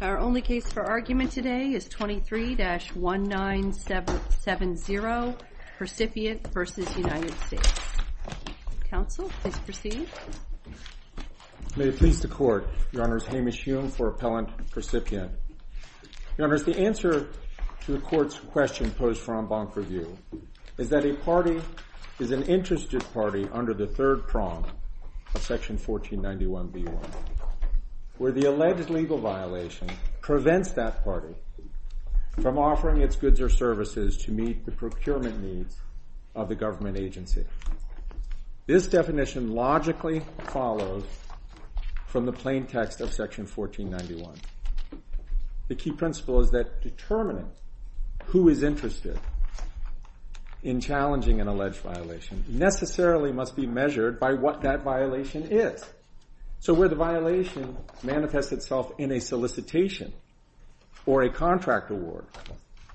Our only case for argument today is 23-1970, Precipient v. United States. Counsel, please proceed. May it please the Court, Your Honors, Hamish Hume for Appellant Precipient. Your Honors, the answer to the Court's question posed for en banc review is that a party is an interested party under the third prong of section 1491b1 where the alleged legal violation prevents that party from offering its goods or services to meet the procurement needs of the government agency. This definition logically follows from the plain text of section 1491. The key principle is that determining who is interested in challenging an alleged violation necessarily must be measured by what that violation is. So where the violation manifests itself in a solicitation or a contract award,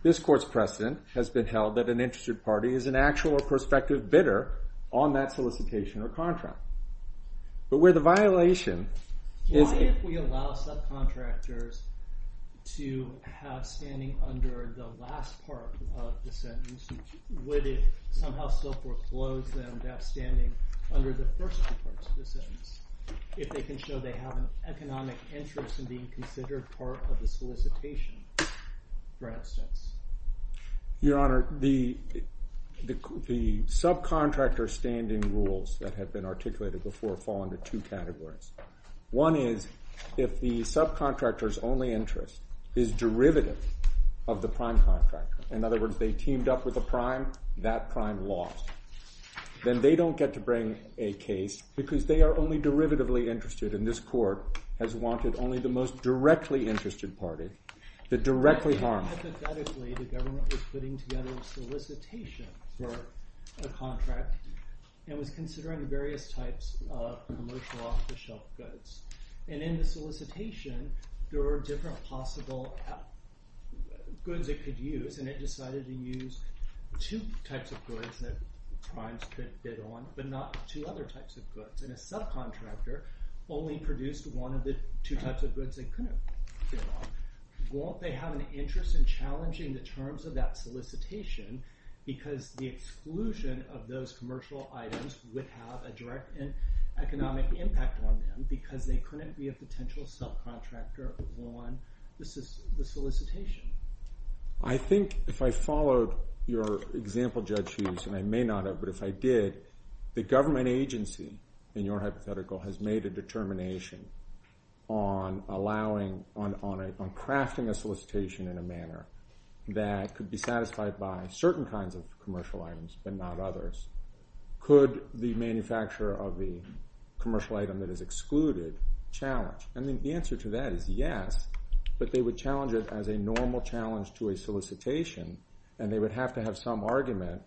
this Court's precedent has been held that an interested party is an actual or prospective bidder on that solicitation or contract. But where the violation is... Why if we allow subcontractors to have standing under the last part of the sentence would it somehow still foreclose them that standing under the first part of the sentence if they can show they have an economic interest in being considered part of the solicitation? Your Honor, the subcontractor standing rules that have been articulated before fall into two categories. One is if the subcontractor's only interest is derivative of the prime contractor. In other words, they teamed up with the prime, that prime lost. Then they don't get to bring a case because they are only derivatively interested and this Court has wanted only the most directly interested party to directly harm it. Hypothetically, the government was putting together a solicitation for the contract and was considering various types of commercial off-the-shelf goods. And in the solicitation, there were different possible goods it could use and it decided to use two types of goods that primes could bid on but not two other types of goods. And a subcontractor only produced one of the two types of goods they couldn't bid on. Won't they have an interest in challenging the terms of that solicitation because the exclusion of those commercial items would have a direct economic impact on them because they couldn't be a potential subcontractor on the solicitation? I think if I followed your example, Judge Hughes, and I may not have, but if I did, the government agency, in your hypothetical, has made a determination on allowing, on crafting a solicitation in a manner that could be satisfied by certain kinds of commercial items but not others. Could the manufacturer of the commercial item that is excluded challenge? And the answer to that is yes, but they would challenge it as a normal challenge to a solicitation and they would have to have some argument.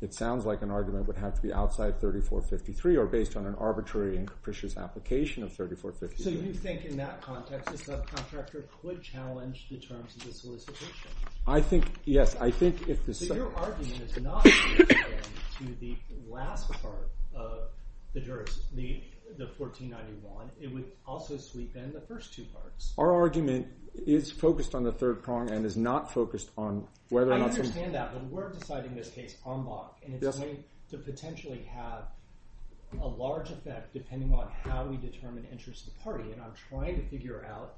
It sounds like an argument would have to be outside 3453 or based on an arbitrary and capricious application of 3453. So you think in that context, a subcontractor could challenge the terms of the solicitation? I think, yes, I think if the... So your argument is not to the last part of the 1491. It would also sweep in the first two parts. Our argument is focused on the third prong and is not focused on whether or not... I understand that, but we're deciding this case en bloc and it's going to potentially have a large effect depending on how we determine interest of the party and I'm trying to figure out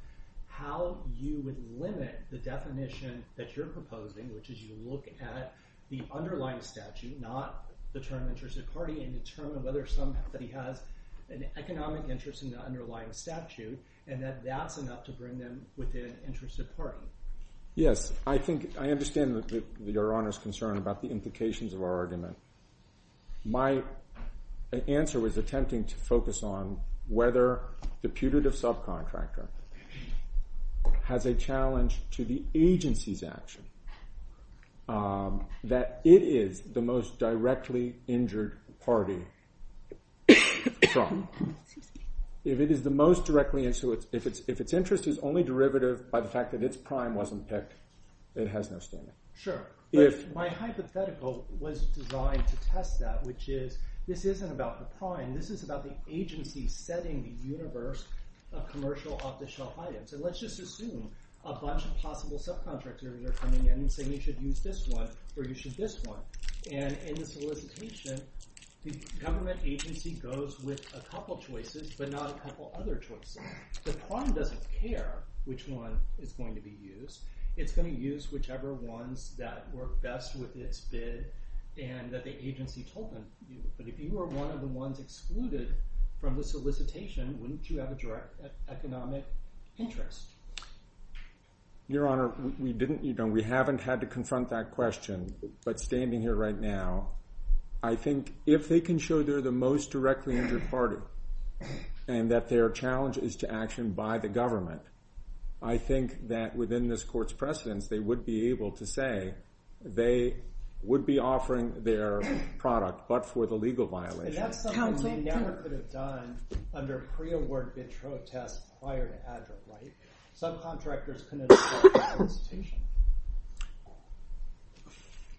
how you would limit the definition that you're proposing which is you look at the underlying statute, not the term interest of party and determine whether somebody has an economic interest in the underlying statute and that that's enough to bring them within interest of party. Yes, I think, I understand Your Honor's concern about the implications of our argument. My answer was attempting to focus on whether the putative subcontractor has a challenge to the agency's action, that it is the most directly injured party. If it is the most directly... If its interest is only derivative by the fact that its prime wasn't picked, it has no standing. Sure. My hypothetical was designed to test that which is this isn't about the prime, this is about the agency setting the universe of commercial off-the-shelf items and let's just assume a bunch of possible subcontractors are coming in saying you should use this one or you should use this one and in the solicitation, the government agency goes with a couple of choices but not a couple of other choices. The prime doesn't care which one is going to be used. It's going to use whichever one that worked best with its bid and that the agency told them. But if you were one of the ones excluded from the solicitation, wouldn't you have a direct economic interest? Your Honor, we haven't had to confront that question but standing here right now, I think if they can show they're the most directly injured party and that their challenge is to action by the government, I think that within this court's precedence, they would be able to say they would be offering their product but for the legal violation.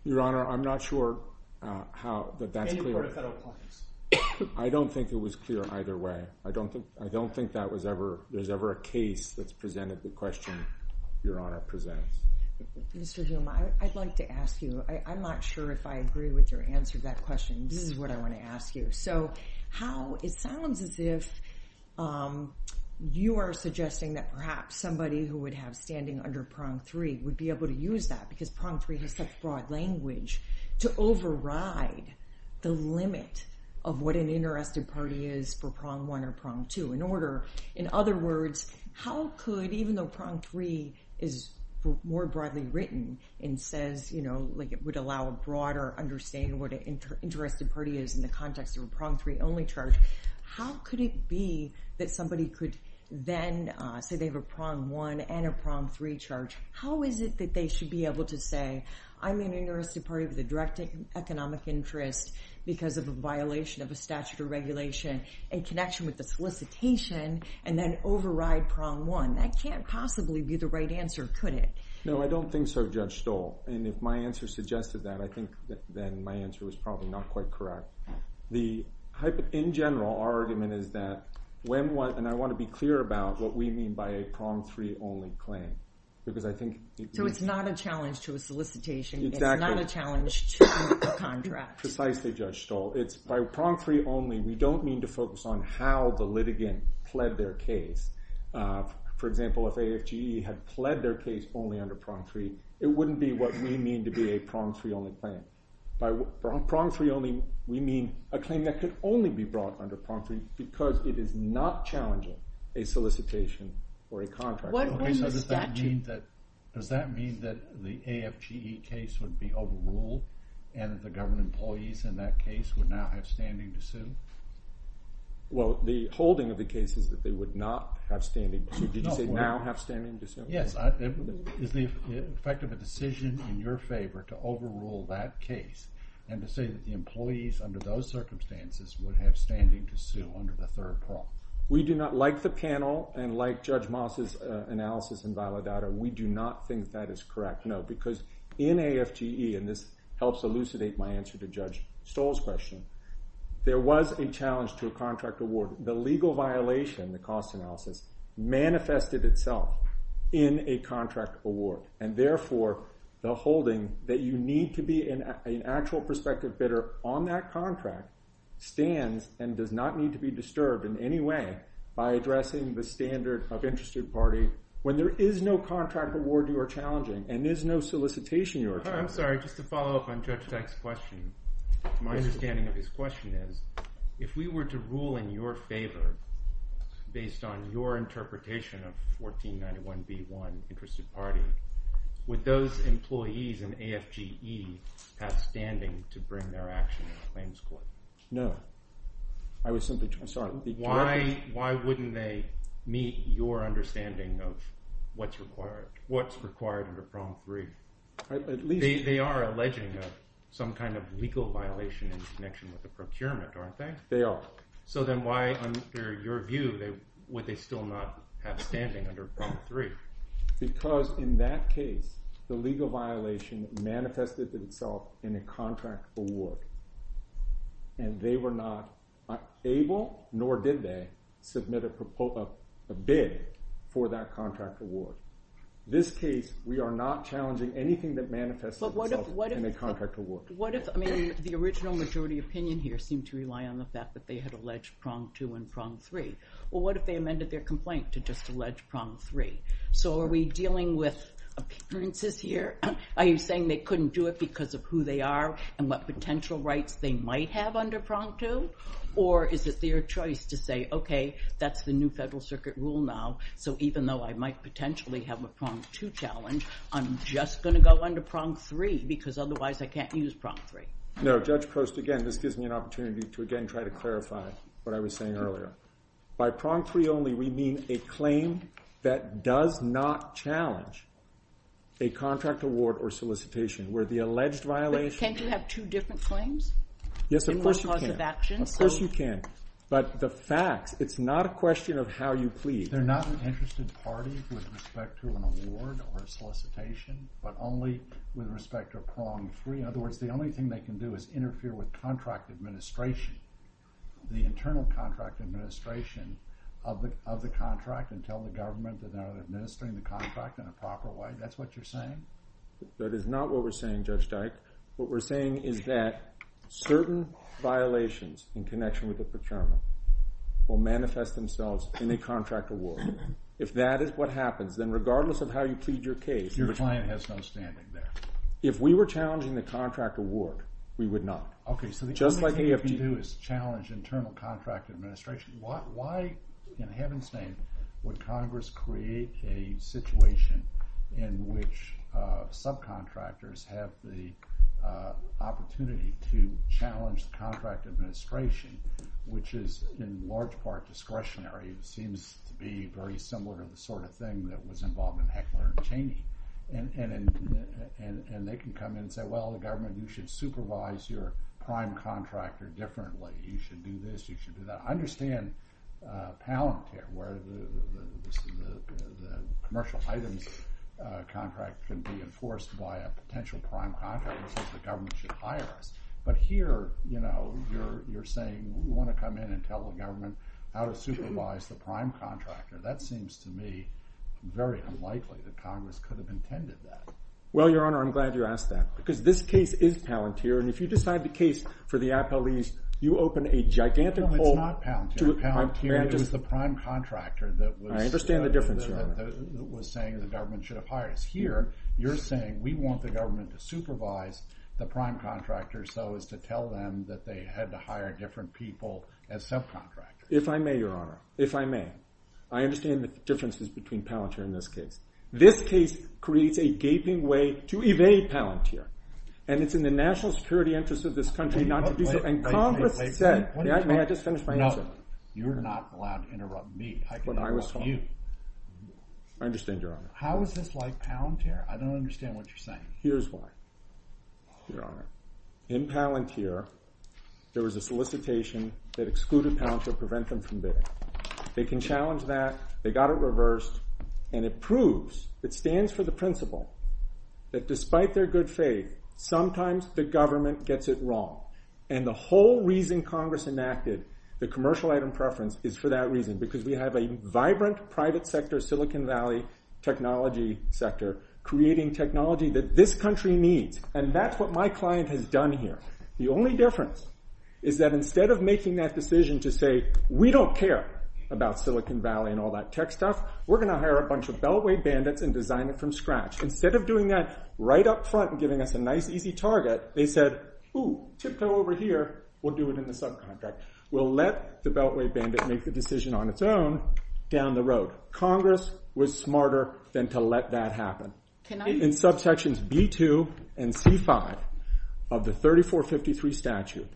Your Honor, I'm not sure that that's clear. I don't think it was clear either way. I don't think that was ever a case that presented the question Your Honor presented. Mr. Zuma, I'd like to ask you. I'm not sure if I agree with your answer to that question. This is what I want to ask you. It sounds as if you are suggesting that perhaps somebody who would have standing under Prom 3 would be able to use that because Prom 3 is such broad language to override the limit of what an interested party is for Prom 1 or Prom 2. In other words, how could even though Prom 3 is more broadly written and says it would allow a broader understanding what an interested party is in the context of a Prom 3 only charge, how could it be that somebody could then, say they have a Prom 1 and a Prom 3 charge, how is it that they should be able to say, I'm an interested party with a direct economic interest because of a violation of a statute or regulation in connection with the solicitation and then override Prom 1? That can't possibly be the right answer, could it? No, I don't think so, Judge Stoll. And if my answer suggested that, then my answer was probably not quite correct. In general, our argument is that, and I want to be clear about what we mean by a Prom 3 only claim. So it's not a challenge to a solicitation, it's not a challenge to a contract. Precisely, Judge Stoll. It's by Prom 3 only, we don't mean to focus on how the litigant pled their case. For example, if AFGE had pled their case only under Prom 3, it wouldn't be what we mean to be a Prom 3 only claim. By Prom 3 only, we mean a claim that could only be brought under Prom 3 because it is not challenging a solicitation or a contract. Does that mean that the AFGE case would be overruled and the government employees in that case would now have standing to sue? Well, the holding of the case is that they would not have standing to sue. Did they now have standing to sue? Yes, if it affected the decision in your favor to overrule that case and to say that the employees under those circumstances would have standing to sue under the third Prom. We do not, like the panel, and like Judge Moss' analysis in Valedada, we do not think that is correct. No, because in AFGE, and this helps elucidate my answer to Judge Stoll's question, there was a challenge to a contract award. The legal violation, the cost analysis, manifested itself in a contract award, and therefore the holding that you need to be an actual prospective bidder on that contract stands and does not need to be disturbed in any way by addressing the standard of interested party when there is no contract award you are challenging and there is no solicitation you are challenging. I'm sorry, just to follow up on Judge Stack's question, my understanding of his question is, if we were to rule in your favor based on your interpretation of 1491B1, Interested Party, would those employees in AFGE have standing to bring their action to the Plains Court? No. I was simply... I'm sorry. Why wouldn't they meet your understanding of what's required under Prom 3? They are alleging some kind of legal violation in connection with the procurement, aren't they? They are. So then why, under your view, would they still not have standing under Prom 3? Because in that case, the legal violation manifested itself in a contract award and they were not able, nor did they, submit a bid for that contract award. This case, we are not challenging anything that manifests itself in a contract award. What if the original majority opinion here seemed to rely on the fact that they had alleged Prom 2 and Prom 3? Well, what if they amended their complaint to just allege Prom 3? So are we dealing with appearances here? Are you saying they couldn't do it because of who they are and what potential rights they might have under Prom 2? Or is it their choice to say, okay, that's the new Federal Circuit rule now, so even though I might potentially have a Prom 2 challenge, I'm just going to go under Prom 3 because otherwise I can't use Prom 3. No, Judge Post, again, this gives me an opportunity to again try to clarify what I was saying earlier. By Prom 3 only, we mean a claim that does not challenge a contract award or solicitation where the alleged violation... Can't you have two different claims? Yes, of course you can. Of course you can, but the fact, it's not a question of how you plead. They're not an interested party with respect to an award or a solicitation, but only with respect to a Prom 3. In other words, the only thing they can do is interfere with contract administration, the internal contract administration of the contract and tell the government they're not administering the contract in a proper way. That's what you're saying? That is not what we're saying, Judge Dyke. What we're saying is that certain violations in connection with the paternal will manifest themselves in a contract award. If that is what happens, then regardless of how you plead your case... Your client has no standing there. If we were challenging the contract award, we would not. Okay, so the only thing you can do is challenge internal contract administration. Why, in heaven's name, would Congress create a situation in which subcontractors have the opportunity to challenge the contract administration, which is in large part discretionary. It seems to be very similar to the sort of thing that was involved in Heckler & Cheney. And they can come in and say, well, the government, you should supervise your prime contractor differently. You should do this, you should do that. I understand talent there, where the commercial liability contract can be enforced by a potential prime contractor that the government should hire. But here, you know, you're saying we want to come in and tell the government how to supervise the prime contractor. That seems to me very unlikely that Congress could have intended that. Well, Your Honor, I'm glad you asked that. Because this case is Palantir, and if you decide the case for the appellees, you open a gigantic hole... No, it's not Palantir. Palantir is the prime contractor that was... I understand the difference, Your Honor. ...that was saying the government should have hired. Here, you're saying we want the government to supervise the prime contractor so as to tell them that they had to hire different people as subcontractors. If I may, Your Honor, if I may, I understand the differences between Palantir and this case. This case creates a gaping way to evade Palantir. And it's in the national security interest of this country not to do that. And Congress said... No, you're not allowed to interrupt me. I can interrupt you. I understand, Your Honor. How is this like Palantir? I don't understand what you're saying. Here's why, Your Honor. In Palantir, there was a solicitation that excluded Palantir prevention from bidding. They can challenge that. They got it reversed. And it proves, it stands for the principle that despite their good faith, sometimes the government gets it wrong. And the whole reason Congress enacted the commercial item preference is for that reason. Because we have a vibrant private sector Silicon Valley technology sector creating technology that this country needs. And that's what my client has done here. The only difference is that instead of making that decision to say, we don't care about Silicon Valley and all that tech stuff, we're going to hire a bunch of beltway bandits and design it from scratch. Instead of doing that right up front and giving us a nice easy target, they said, ooh, tiptoe over here, we'll do it in the subcontract. We'll let the beltway bandit make the decision on its own down the road. Congress was smarter than to let that happen. In subsections B2 and C5 of the 3453 statute,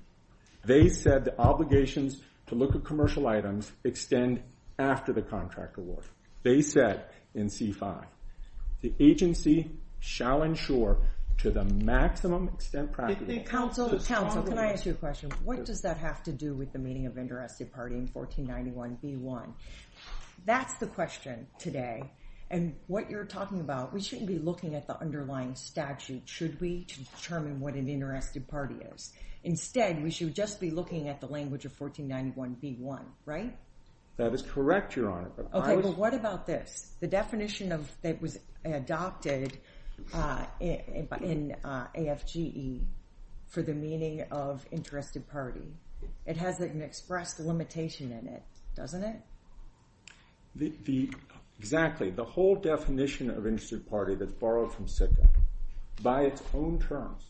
they said obligations to look at commercial items extend after the contract award. They said in C5, the agency shall ensure to the maximum extent possible... Counsel, can I ask you a question? What does that have to do with the meeting of the Interactive Party in 1491B1? That's the question today. And what you're talking about, we shouldn't be looking at the underlying statute. Should we determine what an Interactive Party is? Instead, we should just be looking at the language of 1491B1, right? That is correct, Your Honor. Okay, but what about this? The definition that was adopted in AFGE for the meaning of Interactive Party. It has an express limitation in it, doesn't it? Exactly. The whole definition of Interactive Party that's borrowed from SICA by its own terms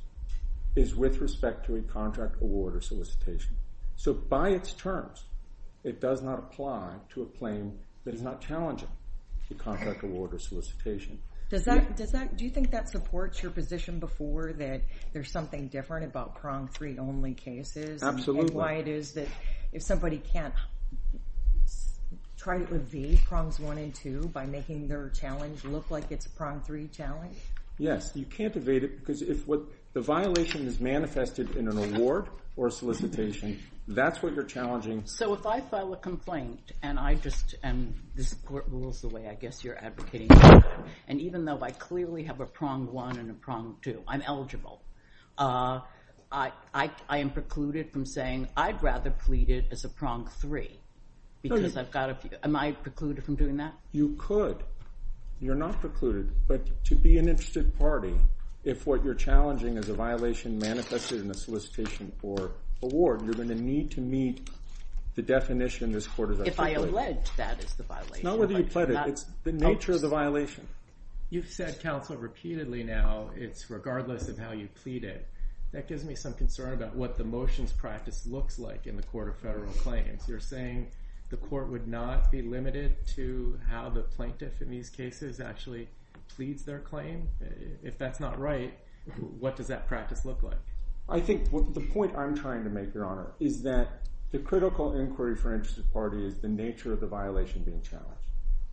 is with respect to a contract award or solicitation. By its terms, it does not apply to a claim that is not challenging the contract award or solicitation. Do you think that supports your position before that there's something different about prong three only cases? Absolutely. If somebody can't try it with V, prongs one and two by making their challenge look like it's a prong three challenge? Yes, you can't evade it because the violation is manifested in an award or solicitation. That's what you're challenging. If I file a complaint and this court rules the way I guess you're advocating and even though I clearly have a prong one and a prong two, I'm eligible. I am precluded from saying I'd rather plead it as a prong three because I've got a few. Am I precluded from doing that? You could. You're not precluded, but to be an interested party, if what you're challenging is a violation manifested in the solicitation for award, you're going to need to meet the definition this court has established. If I allege that it's a violation. Not whether you plead it. It's the nature of the violation. You've said, counsel, repeatedly now it's regardless of how you plead it. That gives me some concern about what the motions practice looks like in the court of federal claims. You're saying the court would not be limited to how the plaintiffs in these cases actually plead their claims? If that's not right, what does that practice look like? The point I'm trying to make, Your Honor, is that the critical inquiry for an interested party is the nature of the violation being challenged.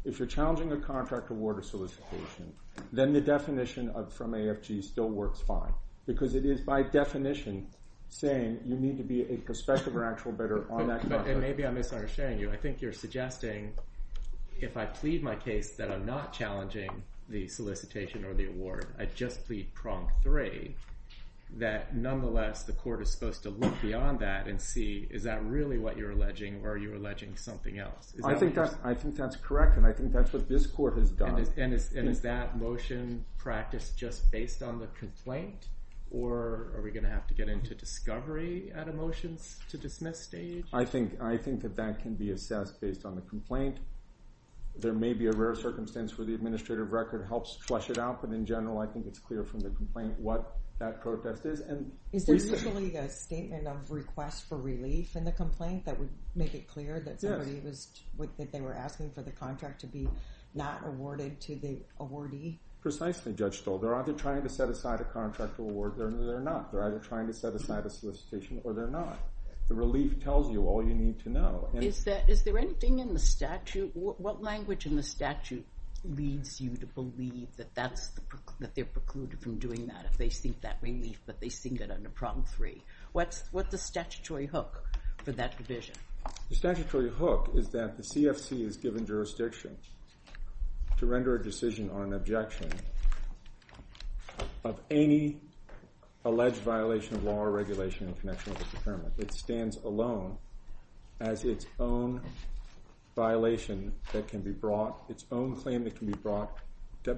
If you're challenging the contract award of solicitation, then the definition from AFG still works fine because it is by definition saying you need to be a prospective or actual veteran on that contract. Maybe I'm misunderstanding you. I think you're suggesting if I plead my case that I'm not challenging the solicitation or the award. I just plead prompt three, that nonetheless the court is supposed to look beyond that and see, is that really what you're alleging or are you alleging something else? I think that's correct and I think that's what this court has done. Is that motion practice just based on the complaint or are we going to have to get into discovery at a motion to dismiss stage? I think that can be assessed based on the complaint. There may be a rare circumstance where the administrative record helps flush it out, but in general I think it's clear from the complaint what that process is. Is there really a statement of request for relief in the complaint that would make it clear that they were asking for the contract to be not awarded to the awardee? Precisely, Judge Stoll. They're either trying to set aside a contract award or they're not. They're either trying to set aside a solicitation or they're not. The relief tells you all you need to know. Is there anything in the statute, what language in the statute leads you to believe that they're precluded from doing that if they seek that relief that they seek it under Problem 3? What's the statutory hook for that division? The statutory hook is that the CFC is given jurisdiction to render a decision on objection of any alleged violation of our regulation in connection with this affirmative. It stands alone as its own violation that can be brought, its own claim that can be brought.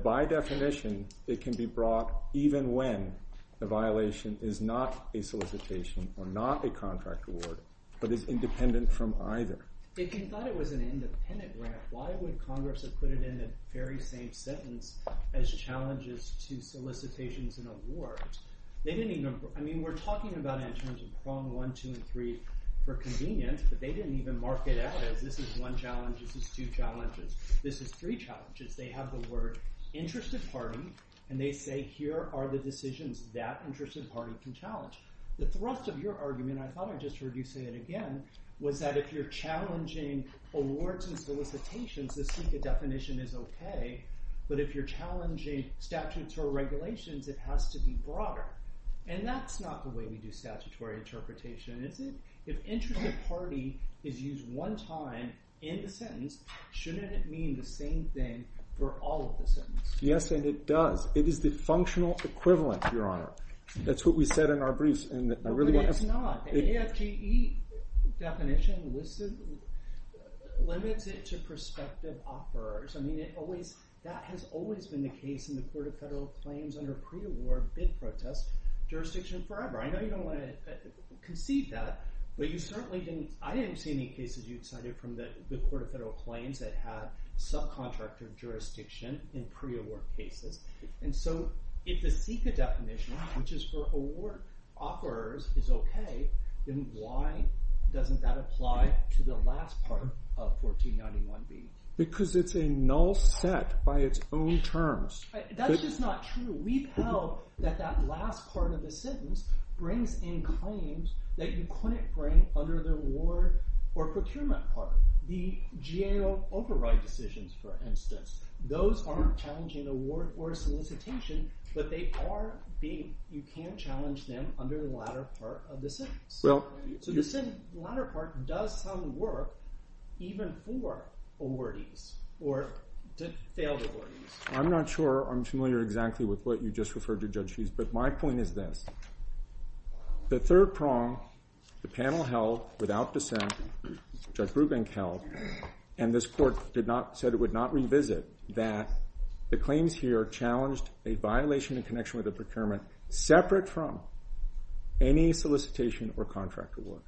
By definition, it can be brought even when the violation is not a solicitation or not a contract award, but is independent from either. If you thought it was an independent grant, why would Congress have put it in the very same sentence as challenges to solicitations and awards? We're talking about it in terms of Problem 1, 2, and 3 for convenience, but they didn't even mark it as it. This is one challenge. This is two challenges. This is three challenges. They have the word interested party, and they say, here are the decisions that interested party can challenge. The thrust of your argument, I thought I just heard you say it again, was that if you're challenging awards and solicitations, the SECA definition is okay, but if you're challenging statutory regulations, it has to be broader, and that's not the way we do statutory interpretation. If interested party is used one time in the sentence, shouldn't it mean the same thing for all of the sentences? Yes, and it does. It is the functional equivalent, Your Honor. That's what we said in our brief. No, it's not. The AFGE definition limits it to prospective authors. That has always been the case in the Court of Federal Claims under pre-award bid process. Jurisdiction is forever. I'm not even going to concede that, but you certainly can. I haven't seen any cases you've cited from the Court of Federal Claims that have subcontracted jurisdiction in pre-award cases. If the SECA definition, which is for award offerors, is okay, then why doesn't that apply to the last part of section 291B? Because it's a null set by its own terms. That's just not true. We've held that that last part of the sentence brings in claims that you couldn't bring under the award or procurement part. The GAO override decisions, for instance, those aren't challenging the award or solicitation, but they are being, you can challenge them under the latter part of the sentence. So the latter part does not challenge the award even for awardees or just failed awardees. I'm not sure I'm familiar exactly with what you just referred to, Judge Keith, but my point is this. The third prong the panel held without dissent, Judge Rubin held, and this court said it would not revisit, that the claims here challenged a violation in connection with the procurement separate from any solicitation or contract award.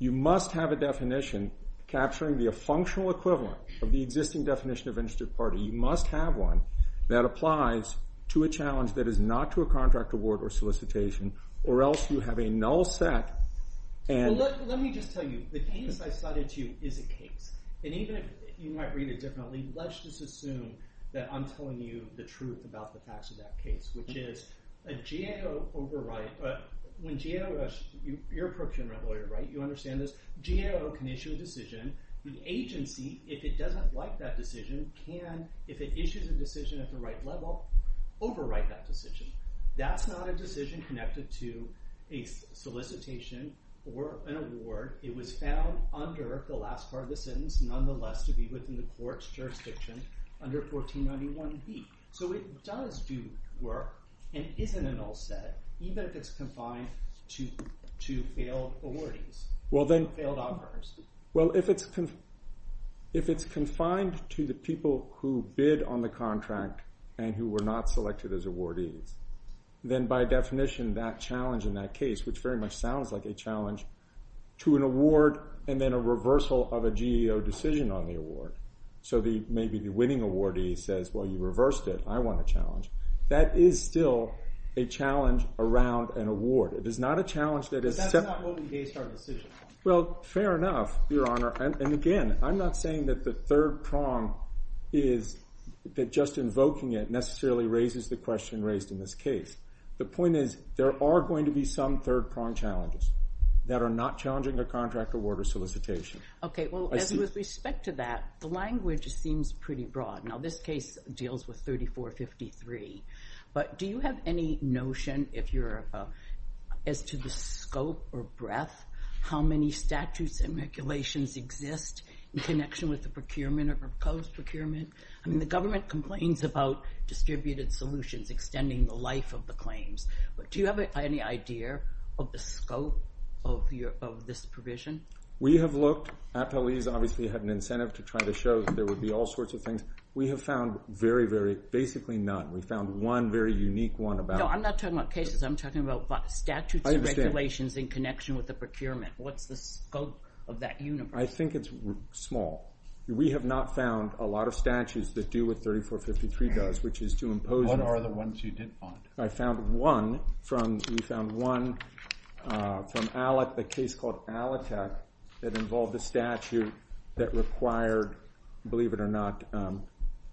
You must have a definition capturing the functional equivalent of the existing definition of interest of party. You must have one that applies to a challenge that is not to a contract award or solicitation, or else you have a null set. Let me just tell you, the case I cited to you is a case. And even if you might read it differently, let's just assume that I'm telling you the truth about the facts of that case, which is a GAO override, when GAO, you're a procurement lawyer, right? You understand this? GAO can issue a decision. The agency, if it doesn't like that decision, can, if it issues a decision at the right level, override that decision. That's not a decision connected to a solicitation or an award. It was found under the last part of the sentence, nonetheless, to be within the court's jurisdictions under 1491B. So it does do work and it isn't a null set, even if it's confined to failed awardees. Well, if it's confined to the people who bid on the contract and who were not selected as awardees, then by definition, that challenge in that case, which very much sounds like a challenge, to an award and then a reversal of a GAO decision on the award. So maybe the winning awardee says, well, you reversed it. I want a challenge. That is still a challenge around an award. It is not a challenge that it's... That's not what we base our decision on. Well, fair enough, Your Honor. And again, I'm not saying that the third prong is that just invoking it necessarily raises the question raised in this case. The point is, there are going to be some third prong challenges that are not challenging a contract, award, or solicitation. Okay, well, as with respect to that, the language seems pretty broad. Now, this case deals with 3453, but do you have any notion, if you're about, as to the scope or breadth, how many statutes and regulations exist in connection with the procurement or proposed procurement? I mean, the government complains about distributed solutions extending the life of the claims. Do you have any idea of the scope of this provision? We have looked. Appellees obviously have an incentive to try to show that there would be all sorts of things. We have found very, very, basically none. We found one very unique one about... No, I'm not talking about cases. I'm talking about statutes and regulations in connection with the procurement. What's the scope of that universe? I think it's small. We have not found a lot of statutes that deal with 3453 does, which is to impose... What are the ones you did find? I found one from... We found one from Alec, a case called Alatech, that involved a statute that required, believe it or not,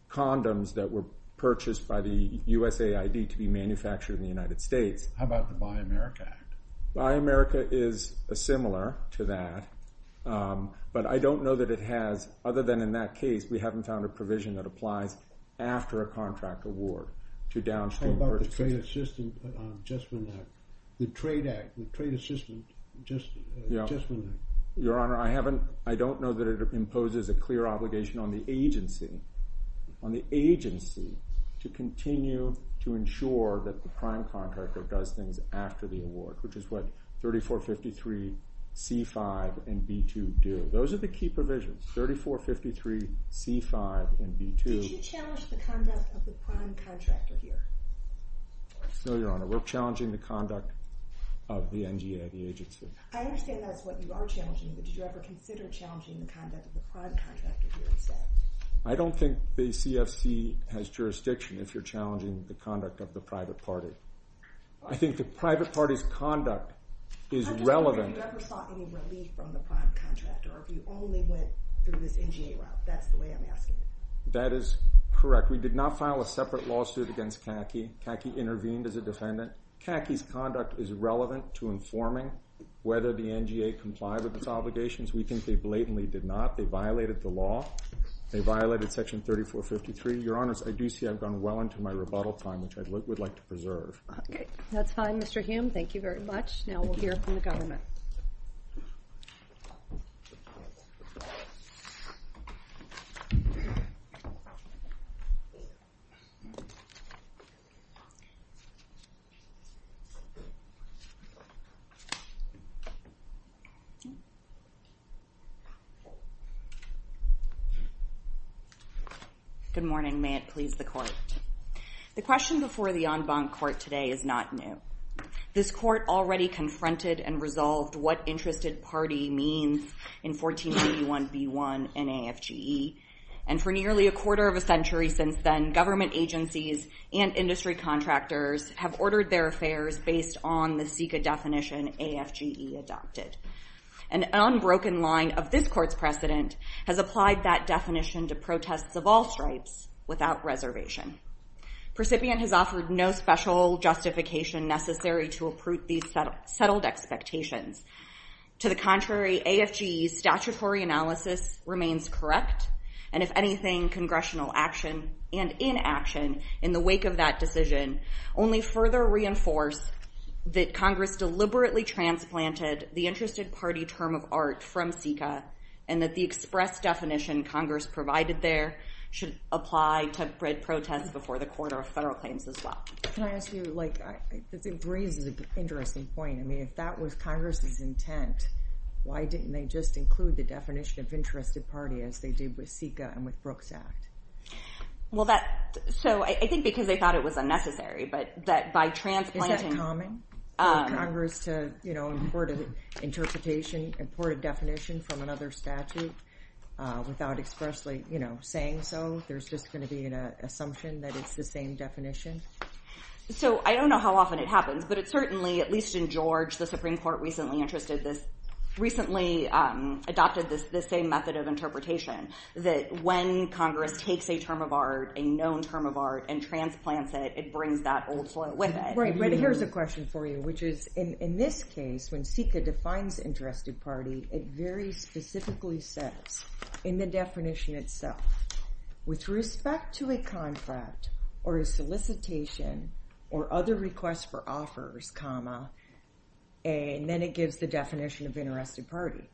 condoms that were purchased by the USAID to be manufactured in the United States. How about the Buy America Act? Buy America is similar to that, but I don't know that it has, other than in that case, we haven't found a provision that applies after a contract award to downstream purchases. How about the Trade Assistance Adjustment Act? The Trade Act? The Trade Assistance Adjustment Act? Your Honor, I don't know that it imposes a clear obligation on the agency on the agency to continue to ensure that the prime contractor does things after the award, which is what 3453, C-5, and B-2 do. Those are the key provisions. 3453, C-5, and B-2... Did you challenge the conduct of the prime contractor here? No, Your Honor. We're challenging the conduct of the NGA, the agency. I understand that's what you are challenging, but did you ever consider challenging the conduct of the prime contractor here as well? I don't think the CFC has jurisdiction if you're challenging the conduct of the private party. I think the private party's conduct is relevant... I'm sorry, did you ever get any relief from the prime contractor if you only went through the NGA route? That's the way I'm asking. That is correct. We did not file a separate lawsuit against CACI. CACI intervened as a defendant. CACI's conduct is relevant to informing whether the NGA complied with its obligations. We think they blatantly did not. They violated the law. They violated Section 3453. Your Honor, I do see I've gone well into my rebuttal time, which I would like to preserve. That's fine, Mr. Hamm. Thank you very much. Now we'll hear from the government. Good morning. May it please the Court. The question before the en banc court today is not new. This court already confronted and resolved what interested party means in 1481b1 and AFGE, and for nearly a quarter of a century since then, government agencies and industry contractors have ordered their affairs based on the SECA definition AFGE adopted. An unbroken line of this court's precedent has applied that definition to protests of all stripes without reservation. Percipient has offered no special justification necessary to uproot these settled expectations. To the contrary, AFGE's statutory analysis remains correct, and if anything, congressional action and inaction in the wake of that decision only further reinforce that Congress deliberately transplanted the interested party term of arts from SECA, and that the express definition Congress provided there should apply to spread protests before the Court of Federal Claims as well. Can I ask you, like, this is a really interesting point. I mean, if that was Congress's intent, why didn't they just include the definition of interested party as they did with SECA and with Brooks Act? Well, that's, so, I think because they thought it was unnecessary, but by transplanting... Is that common? For Congress to, you know, import interpretation, import a definition from another statute without expressly, you know, saying so, there's just going to be an assumption that it's the same definition? So, I don't know how often it happens, but it certainly, at least in George, the Supreme Court recently adopted this same method of interpretation, that when Congress takes a term of art, a known term of art, and transplants it, it brings that old form with it. Right, but here's a question for you, which is in this case, when SECA defines interested party, it very specifically says in the definition itself, with respect to a contract or a solicitation or other request for offers, comma, and then it gives the definition of interested party.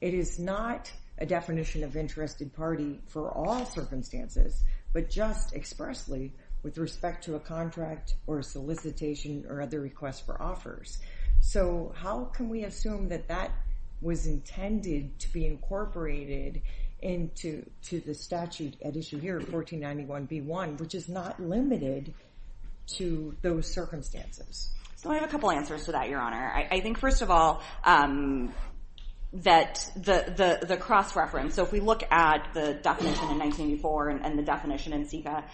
It is not a definition of interested party for all circumstances, but just expressly with respect to a contract or solicitation or other request for offers. So, how can we assume that that was intended to be incorporated into the statute at issue here, 1491b1, which is not limited to those circumstances? Well, I have a couple answers to that, Your Honor. I think, first of all, that the cross-reference, so if we look at the definition in 1984 and the definition in SECA,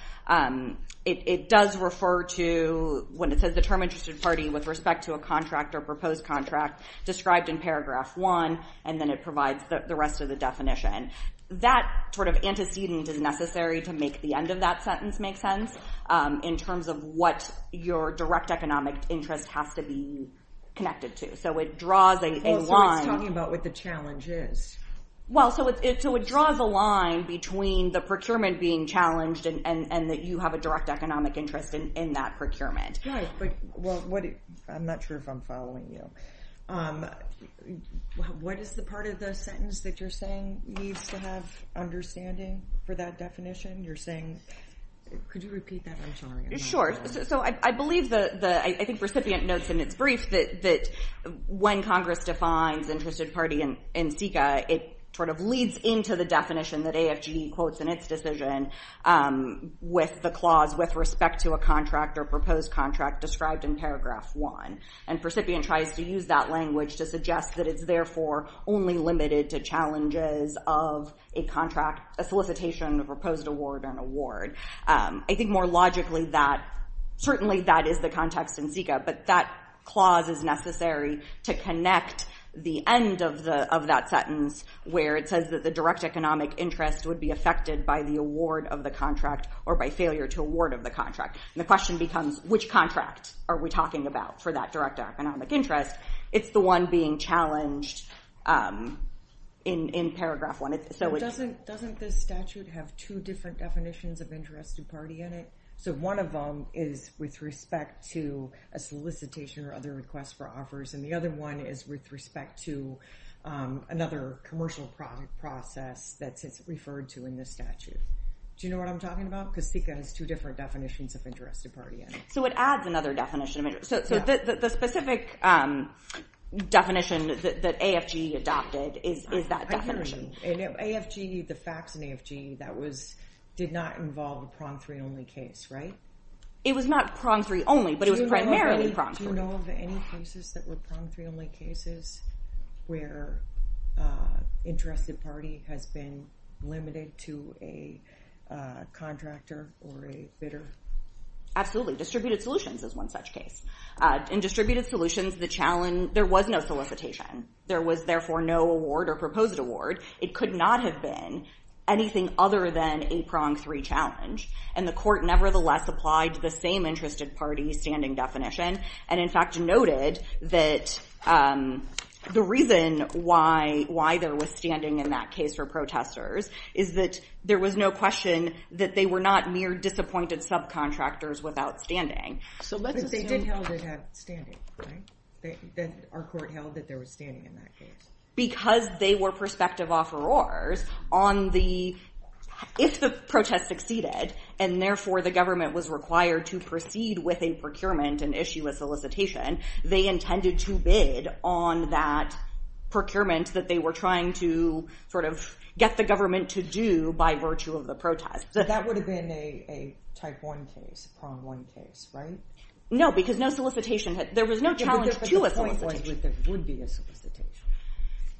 it does refer to when it says the term interested party with respect to a contract or proposed contract described in paragraph one, and then it provides the rest of the definition. That sort of antecedent is necessary to make the end of that sentence make sense, in terms of what your direct economic interest has to be connected to, so it draws a line. You're talking about what the challenge is. Well, so it draws a line between the procurement being challenged and that you have a direct economic interest in that procurement. Yes, but, well, I'm not sure if I'm following you. What is the part of the sentence that you're saying needs to have understanding for that definition? You're saying, could you repeat that? I'm sorry. Sure. So, I believe the, I think recipient notes in its brief that when Congress defines interested party in CICA, it sort of leads into the definition that AFG quotes in its decision with the clause with respect to a contract or proposed contract described in paragraph one, and recipient tries to use that language to suggest that it's therefore only limited to challenges of a contract, a solicitation, a proposed award, an award. I think more logically that certainly that is the context in CICA, but that clause is necessary to connect the end of that sentence where it says that the direct economic interest would be affected by the award of the contract or by failure to award of the contract. The question becomes, which contract are we talking about for that direct economic interest? It's the one being challenged in paragraph one. Doesn't the statute have two different definitions of interested party in it? So, one of them is with respect to a solicitation or other request for offers, and the other one is with respect to another commercial process that's referred to in the statute. Do you know what I'm talking about? Because CICA has two different definitions of interested party in it. So, it adds another definition. So, the specific definition that AFG adopted is that definition. I do remember. The facts in AFG did not involve a promptory only case, right? It was not promptory only, but it was primarily promptory. Do you know of any cases that were promptory only cases where interested party had been limited to a contractor or a bidder? Absolutely. Distributed solutions is one such case. In distributed solutions, there was no solicitation. There was, therefore, no award or proposed award. It could not have been anything other than a promptory challenge, and the court, nevertheless, applied to the same interested party standing definition and, in fact, noted that the reason why there was standing in that case for protesters is that there was no question that they were not mere disappointed subcontractors without standing. But they did know they had standing, right? Our court held that they were standing in that case. Because they were prospective offerors on the... If the protest succeeded, and therefore, the government was required to proceed with a procurement and issue a solicitation, they intended to bid on that procurement that they were trying to sort of get the government to do by virtue of the protest. That would have been a type 1 case, prompt 1 case, right? No, because no solicitation had... There was no challenge to a solicitation.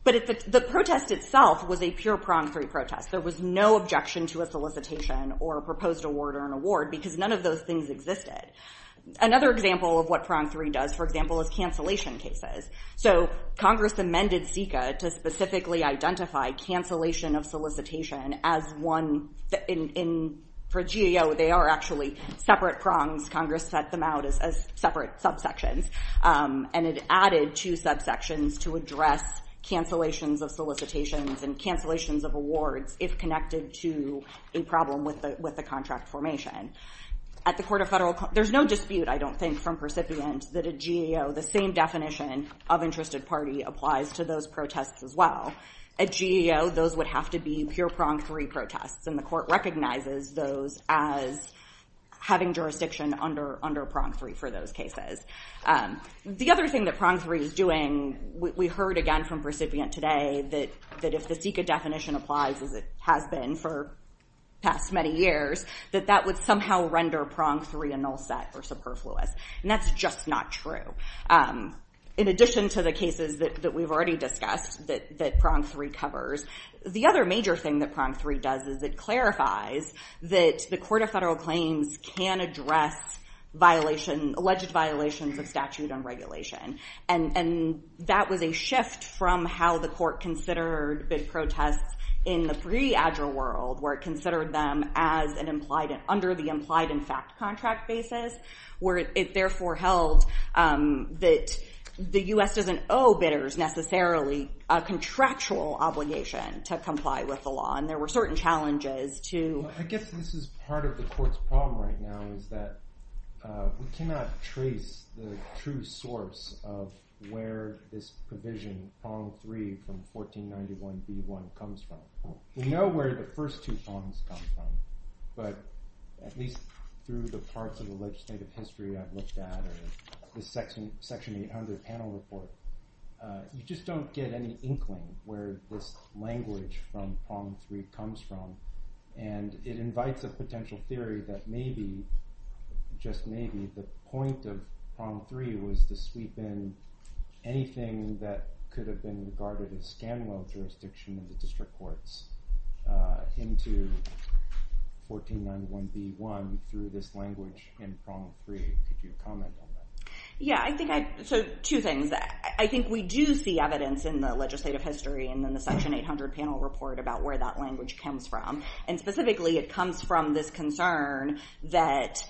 But the protest itself was a pure promptory protest. There was no objection to a solicitation or a proposed award or an award, because none of those things existed. Another example of what promptory does, for example, is cancellation cases. Congress amended FICA to specifically identify cancellation of solicitation as one... For GAO, they are actually separate prompts. Congress sets them out as separate subsections, and it added two subsections to address cancellations of solicitations and cancellations of awards if connected to a problem with the contract formation. At the Court of Federal... There's no dispute, I don't think, from recipients that a GAO, the same definition of interested party applies to those protests as well. At GAO, those would have to be pure promptory protests, and the Court recognizes those as having jurisdiction under promptory for those cases. The other thing that promptory is doing, we heard again from recipients today that if the FICA definition applies as it has been for the past many years, that that would somehow render promptory a null set or superfluous. And that's just not true. In addition to the cases that we've already discussed, that promptory covers, the other major thing that promptory does is it clarifies that the Court of Federal has alleged violations of statute and regulation. And that was a shift from how the Court considered bid protests in the pre-AGRA world, where it considered them as under the implied in fact contract basis, where it therefore held that the U.S. doesn't owe bidders necessarily a contractual obligation to comply with the law, and there were certain challenges to... I guess this is part of the Court's problem right now is that we cannot trace the true source of where this provision prong three from 1491 B.1 comes from. We know where the first two prongs come from, but at least through the parts of the legislative history I've looked at, or the section 800 panel report, you just don't get any inkling where this language from prong three comes from. And it invites a potential theory that maybe, just maybe, the point of prong three was to sweep in anything that could have been regarded as scandal jurisdiction in the district courts into 1491 B.1 through this language in prong three. If you could comment on that. So, two things. I think we do see evidence in the legislative history and in the section 800 panel report about where that language comes from. And specifically, it comes from this concern that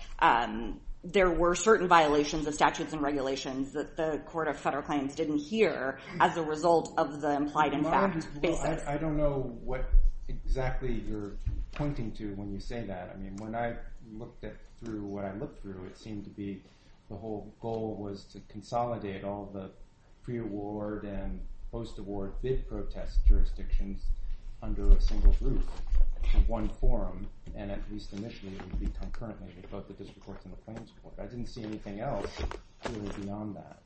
there were certain violations of statutes and regulations that the Court of Federal Claims didn't hear as a result of the implied impact basis. I don't know what exactly you're pointing to when you say that. I mean, when I looked through what I looked through, it seemed to be the whole goal was to consolidate all the pre-award and post-award bid protest jurisdictions under a single group. One forum, and at least initially it would be concurrently because of the District Court of Federal Claims report. I didn't see anything else really beyond that.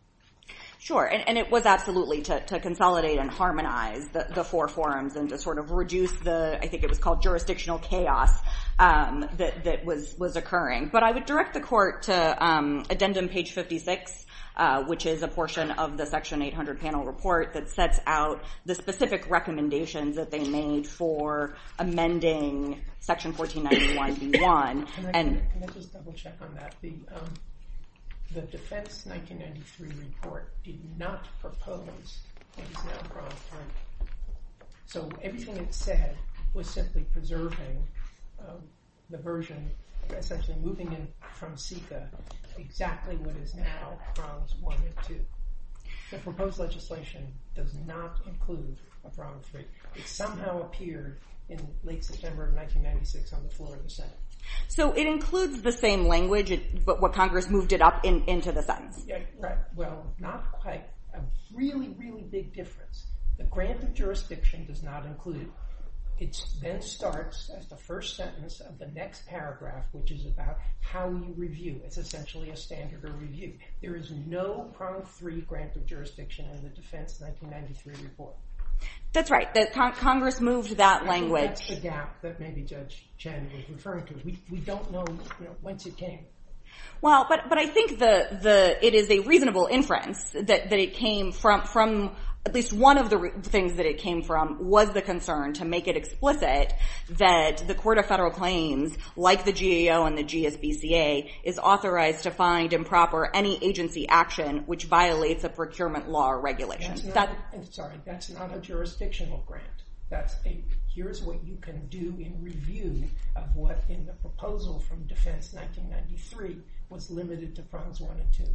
Sure, and it was absolutely to consolidate and harmonize the four forums and to sort of reduce the I think it was called jurisdictional chaos that was occurring. But I would direct the Court to addendum page 56, which is a portion of the section 800 panel report that sets out the specific recommendations that they made for amending section 1491-B1. Can I just double check on that? The defense 1993 report did not propose anything across time. So everything it said was simply preserving the version, essentially moving in from CICA exactly what is now Bronze I and II. The proposed legislation does not include a Bronze III. It somehow appeared in late September of 1996 on the floor of the Senate. So it includes the same language, but Congress moved it up into the Senate. Well, not quite. A really, really big difference. The grant of jurisdiction does not include it then starts as the first sentence of the next paragraph, which is about how you review. It's essentially a standard of review. There is no Bronze III grant of jurisdiction in the defense 1993 report. That's right. Congress moved that language. That's the gap that maybe Judge Chen was referring to. We don't know whence it came. I think it is a reasonable inference that it came from at least one of the things that it came from was the concern to make it explicit that the Court of Federal Claims, like the GAO and the GSBCA, is authorized to find improper any agency action which violates a procurement law or regulation. I'm sorry. That's not a jurisdictional grant. Here's what you can do in review of what in the proposal from defense 1993 was limited to Bronze I and II.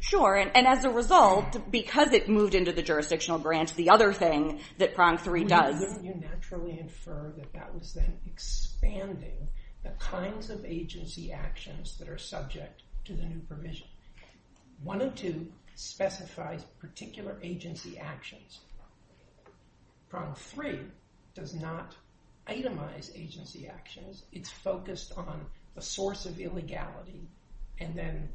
Sure. And as a result, because it moved into the jurisdictional grant, the other thing that Bronze III does... Didn't you naturally infer that that was an expanding the kinds of agency actions that are subject to the new provision. One of two specifies particular agency actions. Bronze III does not itemize agency actions. It's focused on a source of illegality and then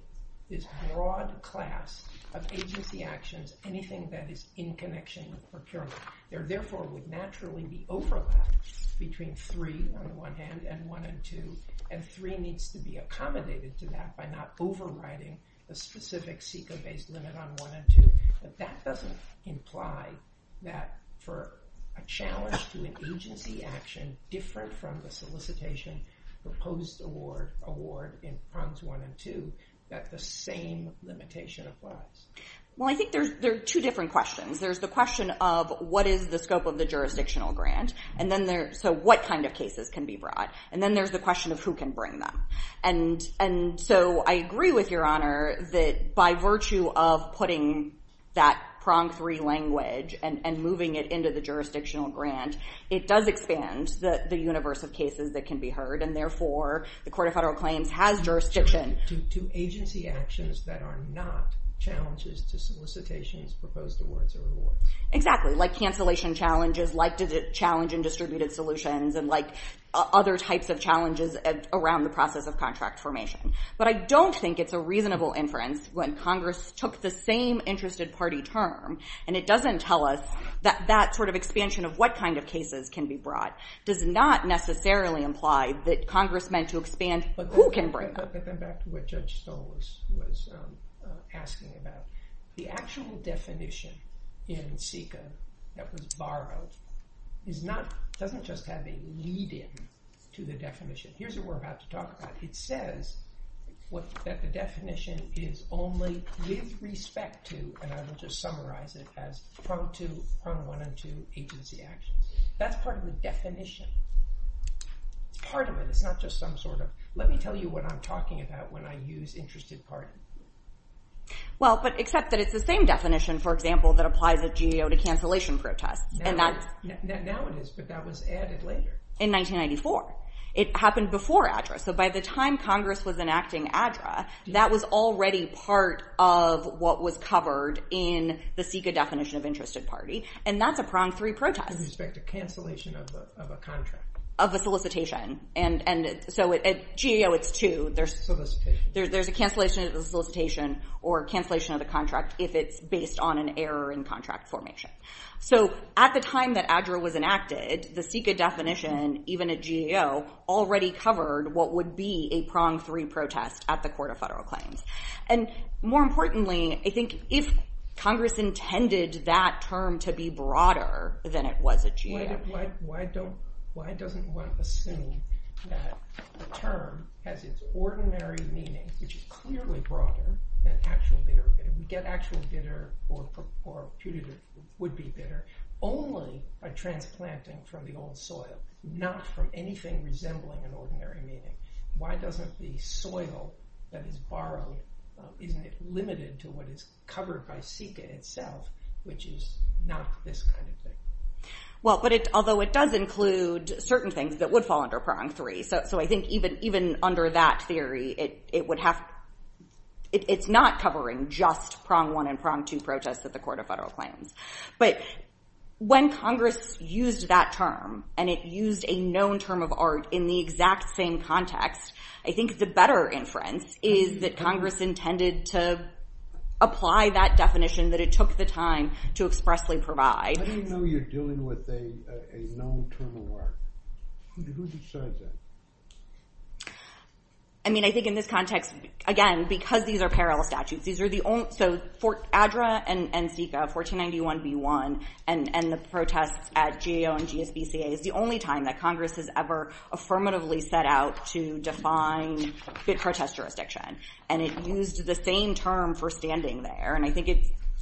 this broad class of agency actions, anything that is in connection with procurement. There, therefore, would naturally be overlap between three, on the one hand, and one and two. And three needs to be accommodated to that by not overriding the specific SECA-based limit on one and two. That doesn't imply that for a challenge to an agency action different from the solicitation proposed award in Bronze I and II that the same limitation applies. Well, I think there's two different questions. There's the question of what is the scope of the jurisdictional grant? So what kind of cases can be brought? And then there's the question of who can bring them? I agree with Your Honor that by virtue of putting that prong-free language and moving it into the jurisdictional grant, it does expand the universe of cases that can be heard and, therefore, the Court of Federal Claims has jurisdiction... To agency actions that are not challenges to solicitations proposed awards or awards. Exactly. Like cancellation challenges, like the challenge in distributed solutions, and like other types of challenges around the process of contract formation. But I don't think it's a reasonable inference when Congress took the same interested party term, and it doesn't tell us that that sort of expansion of what kind of cases can be brought does not necessarily imply that Congress meant to expand who can bring them. But back to what Judge Solis was asking about. The actual definition in SICA that was borrowed doesn't just have a lead-in to the definition. Here's what we're about to talk about. It says that the definition is only with respect to, and I will just summarize it as, prong-2, prong-1, and 2 agency actions. That's part of the definition. Part of it. It's not just some sort of, let me tell you what I'm talking about when I use interested parties. Well, except that it's the same definition, for example, that applies at GAO to cancellation protests. Now it is, but that was added later. In 1994. It happened before ADRA. So by the time Congress was enacting ADRA, that was already part of what was covered in the SICA definition of interested party. And that's a prong-3 protest. With respect to cancellation of a contract. Of a solicitation. GAO is 2. There's a cancellation of the solicitation or cancellation of the contract if it's based on an error in contract formation. At the time that ADRA was enacted, the SICA definition, even at GAO, already covered what would be a prong-3 protest at the Court of Federal Claims. More importantly, I think if Congress intended that term to be broader than it was at GAO. Why doesn't one assume that the term has its ordinary meaning, which is clearly broader than actually bitter. Get actually bitter or putatively would be bitter only by transplanting from the old soil. Not from anything resembling an ordinary meaning. Why doesn't the soil that is borrowed, even if limited to what is covered by SICA itself, which is not this kind of thing. Although it does include certain things that would fall under prong-3. I think even under that theory, it's not covering just prong-1 and prong-2 protests at the Court of Federal Claims. When Congress used that term and it used a known term of art in the exact same context, I think the better inference is that Congress intended to apply that definition that it took the time to expressly provide. How do you know you're dealing with a known term of art? Who decides that? I mean, I think in this context, again, because these are parallel statutes, ADRA and SICA, 1491b-1, and the protests at GAO and GSBCA is the only time that Congress has ever affirmatively set out to define protest jurisdiction. It used the same term for standing there.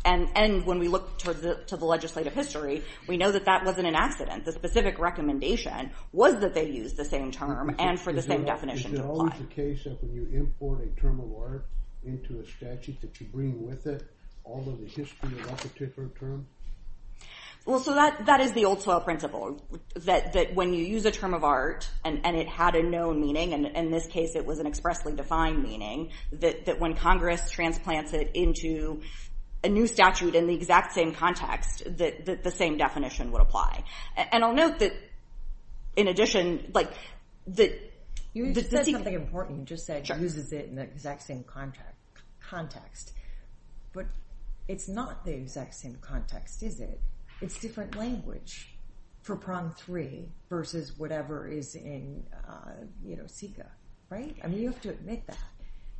When we look to the legislative history, we know that that wasn't an accident. The specific recommendation was that they used the same term and for the same definition to apply. Is it always the case that when you import a term of art into a statute that you bring with it although the history of that particular term? That is the old soil principle that when you use a term of art and it had a known meaning, in this case it was an expressly defined meaning, that when Congress transplants it into a new statute in the exact same context, the same definition would apply. And I'll note that in addition, the... You said something important. You just said it uses it in the exact same context. But it's not the exact same context, is it? It's different language for prong three versus whatever is in SICA, right? I mean, you have to admit that.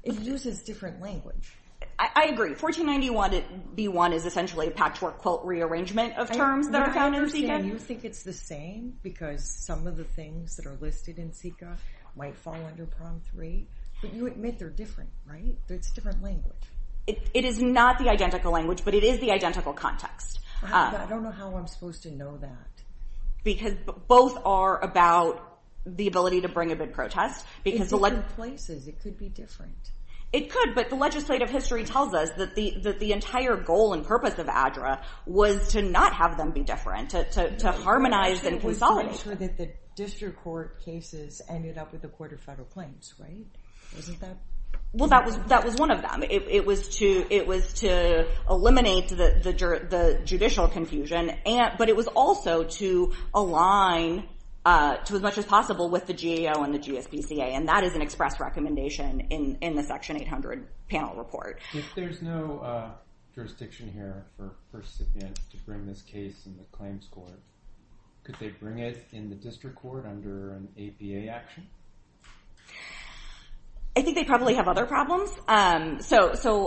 It uses different language. I agree. 1491 B1 is essentially a patchwork quote rearrangement of terms that are found in SICA. And you think it's the same because some of the things that are listed in SICA might fall under prong three. So you admit they're different, right? There's different language. It is not the identical language, but it is the identical context. I don't know how I'm supposed to know that. Because both are about the ability to bring a good protest. It's different places. It could be different. It could, but the legislative history tells us that the entire goal and purpose of ADRA was to not have them be different, to harmonize and consolidate. So that the district court cases ended up with the Court of Federal Claims, right? Well, that was one of them. It was to eliminate the judicial confusion, but it was also to align to as much as possible with the USGCA. And that is an express recommendation in the section 800 panel report. If there's no jurisdiction here for first offense to bring this case to the claims court, could they bring it in the district court under an APA action? I think they probably have other problems. Well,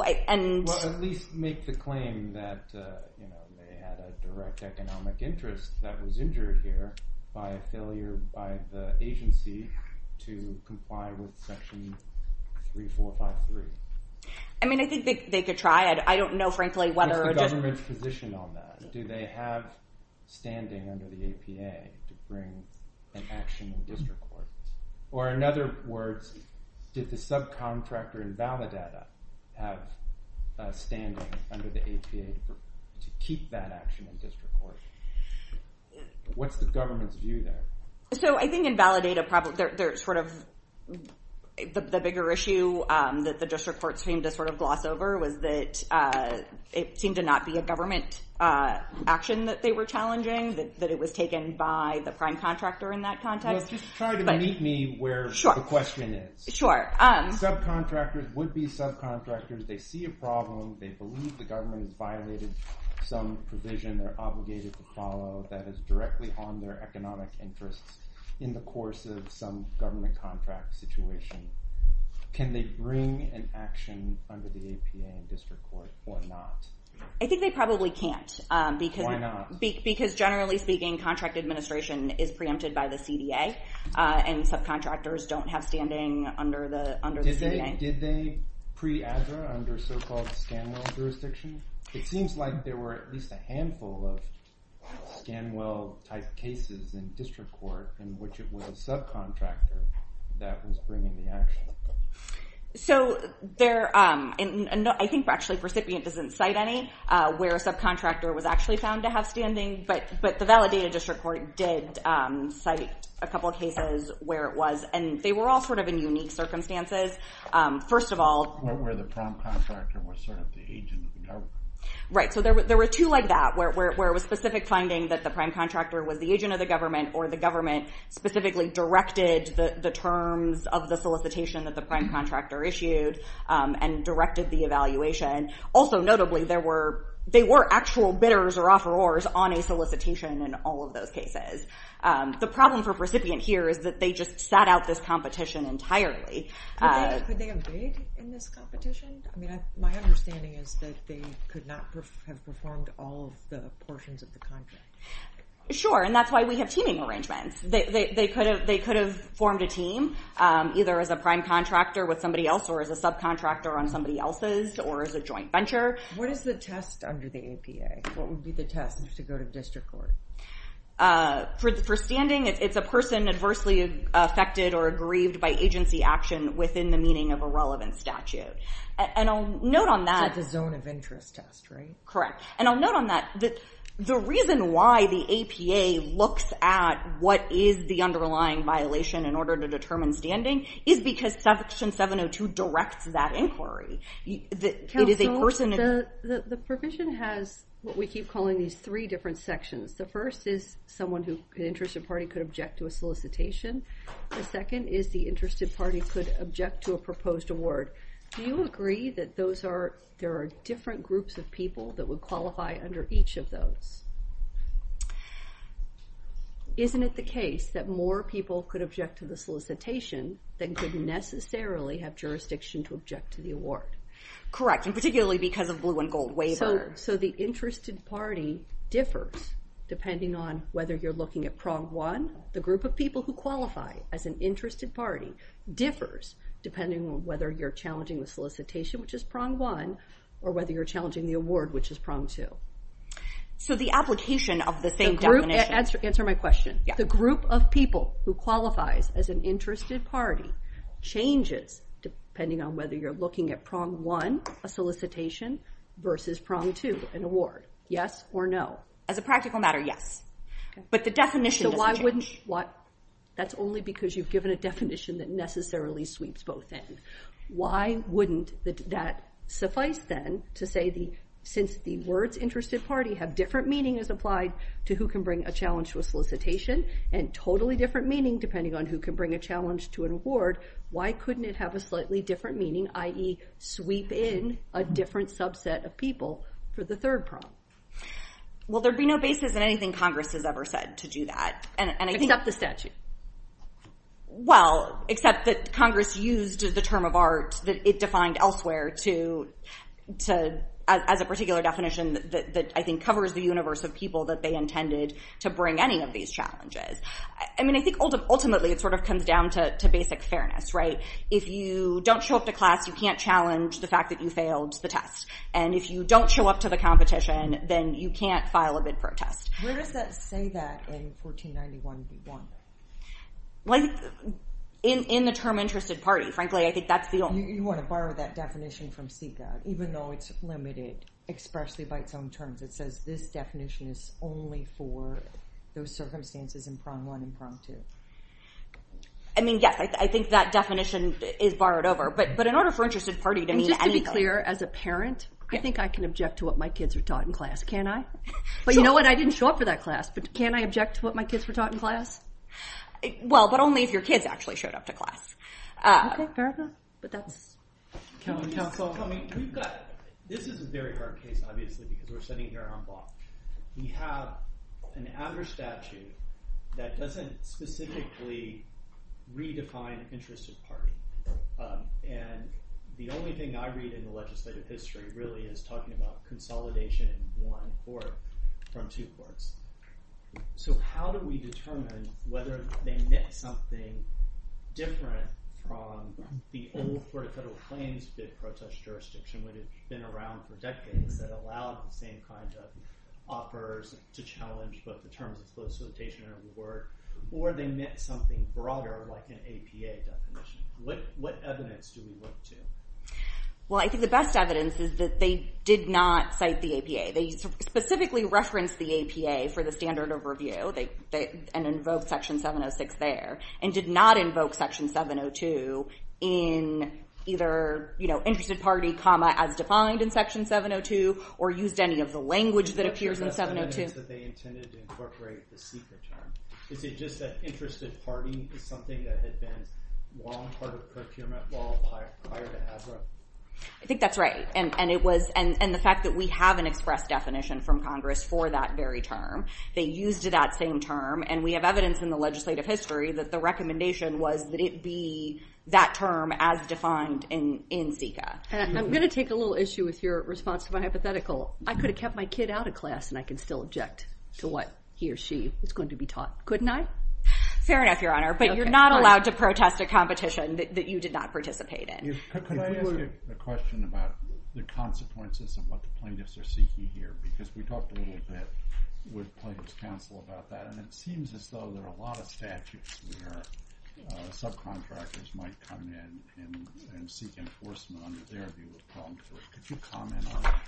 at least make the claim that they had a direct economic interest that was injured here by a failure by the agency to comply with section 3453. I mean, I think they could try. I don't know, frankly, whether... What's the government's position on that? Do they have standing under the APA to bring an action in the district court? Or in other words, did the subcontractor in Validada have a standing under the APA to keep that action in district court? What's the government's view of that? So I think in Validada there's sort of the bigger issue that the district court seemed to sort of gloss over was that it seemed to not be a government action that they were challenging, that it was taken by the prime contractor in that context. Just try to meet me where the question is. Sure. Subcontractors would be subcontractors. They see a problem. They believe the government has violated some provision they're obligated to follow that is directly on their economic interests in the course of some government contract situation. Can they bring an action under the APA in district court or not? I think they probably can't. Why not? Because generally speaking, contract administration is preempted by the CDA, and subcontractors don't have standing under the CDA. Did they pre-aggra under so-called Stanwell jurisdiction? It seems like there were at least a handful of Stanwell-type cases in district court in which it was a subcontractor that was bringing the action. I think actually the recipient doesn't cite any where a subcontractor was actually found to have standing, but the Validada district court did cite a couple of cases where it was, and they were all sort of in unique circumstances. First of all, where the prime contractor was sort of the agent of the government. Right, so there were two like that, where it was specific finding that the prime contractor was the agent of the government or the government specifically directed the terms of the solicitation that the prime contractor issued and directed the evaluation. Also notably, they were actual bidders or offerors on a solicitation in all of those cases. The problem for a recipient here is that they just sat out this competition entirely. Could they have stayed in this competition? My understanding is that they could not have performed all of the portions of the contract. Sure, and that's why we have teaming arrangements. They could have formed a team, either as a prime contractor with somebody else or as a subcontractor on somebody else's or as a joint venture. What is the test under the APA? What would be the test to go to district court? For standing, if the person adversely affected or has a violation within the meaning of a relevant statute. I'll note on that It's a zone of interest test, right? Correct. I'll note on that the reason why the APA looks at what is the underlying violation in order to determine standing is because Section 702 directs that inquiry. The provision has what we keep calling these three different sections. The first is someone who, an interested party, could object to a solicitation. The second is the interested party could object to a proposed award. Do you agree that there are different groups of people that would qualify under each of those? Isn't it the case that more people could object to the solicitation than could necessarily have jurisdiction to object to the award? Correct, and particularly because of blue and gold waiver. So the interested party differs depending on whether you're looking at prong one, the group of people who qualify as an interested party differs depending on whether you're challenging the solicitation, which is prong one, or whether you're challenging the award, which is prong two. So the application of the same definition Answer my question. The group of people who qualify as an interested party changes depending on whether you're looking at prong one, a solicitation, versus prong two, an award. Yes or no? As a practical matter, yes. That's only because you've given a definition that necessarily sweeps both ends. Why wouldn't that suffice then to say since the words interested party have different meaning as applied to who can bring a challenge to a solicitation, and totally different meaning depending on who can bring a challenge to an award, why couldn't it have a slightly different meaning, i.e., sweep in a different subset of people for the third prong? Well, there'd be no basis in anything Congress has ever said to do that. And I think that's the statute. Well, except that Congress used the term of art that it defined elsewhere to as a particular definition that I think covers the universe of people that they intended to bring any of these challenges. I mean, I think ultimately it sort of comes down to basic fairness, right? If you don't show up to class, you can't challenge the fact that you failed the test. And if you don't show up to the competition, then you can't file a bid protest. Where does that say that in 1491b1? In the term interested party. Frankly, I think that's the only... You want to borrow that definition from CICA, even though it's limited expressly by its own terms. It says this definition is only for those circumstances in prong one and prong two. I mean, yes, I think that definition is borrowed over. But in order for interested parent, I think I can object to what my kids are taught in class. Can I? But you know what? I didn't show up to that class, but can I object to what my kids were taught in class? Well, but only if your kids actually showed up to class. Okay, fair enough. This is a very hard case, obviously, because we're sitting here on a block. We have an outer statute that doesn't specifically redefine interested party. And the only thing I read in the legislative history really is talking about consolidation in one court from two courts. So how do we determine whether they meant something different from the old court of federal claims bid process jurisdiction, which has been around for decades and allowed the same kind of offers to challenge both the terms of solicitation and reward, or they meant something broader like an APA definition? What evidence do we look to? Well, I think the best evidence is that they did not cite the APA. They specifically referenced the APA for the standard of review and invoked section 706 there, and did not invoke section 702 in either, you know, interested party comma as defined in section 702 or used any of the language that appears in 702. Is it just that interested party meaning something that has been long part of the criminal law prior to ASRA? I think that's right. And the fact that we have an express definition from Congress for that very term, they used that same term, and we have evidence in the legislative history that the recommendation was that it be that term as defined in SECA. I'm going to take a little issue with your response to my hypothetical. I could have kept my kid out of class, and I could still object to what he or she is going to be taught, couldn't I? Fair enough, Your Honor, but you're not allowed to protest a competition that you did not participate in. Could I ask you a question about the consequences of what the plaintiffs are seeking here, because we talked a little bit with plaintiffs counsel about that, and it seems as though there are a lot of statutes where subcontractors might come in and seek enforcement under their view of problems. Could you comment on that?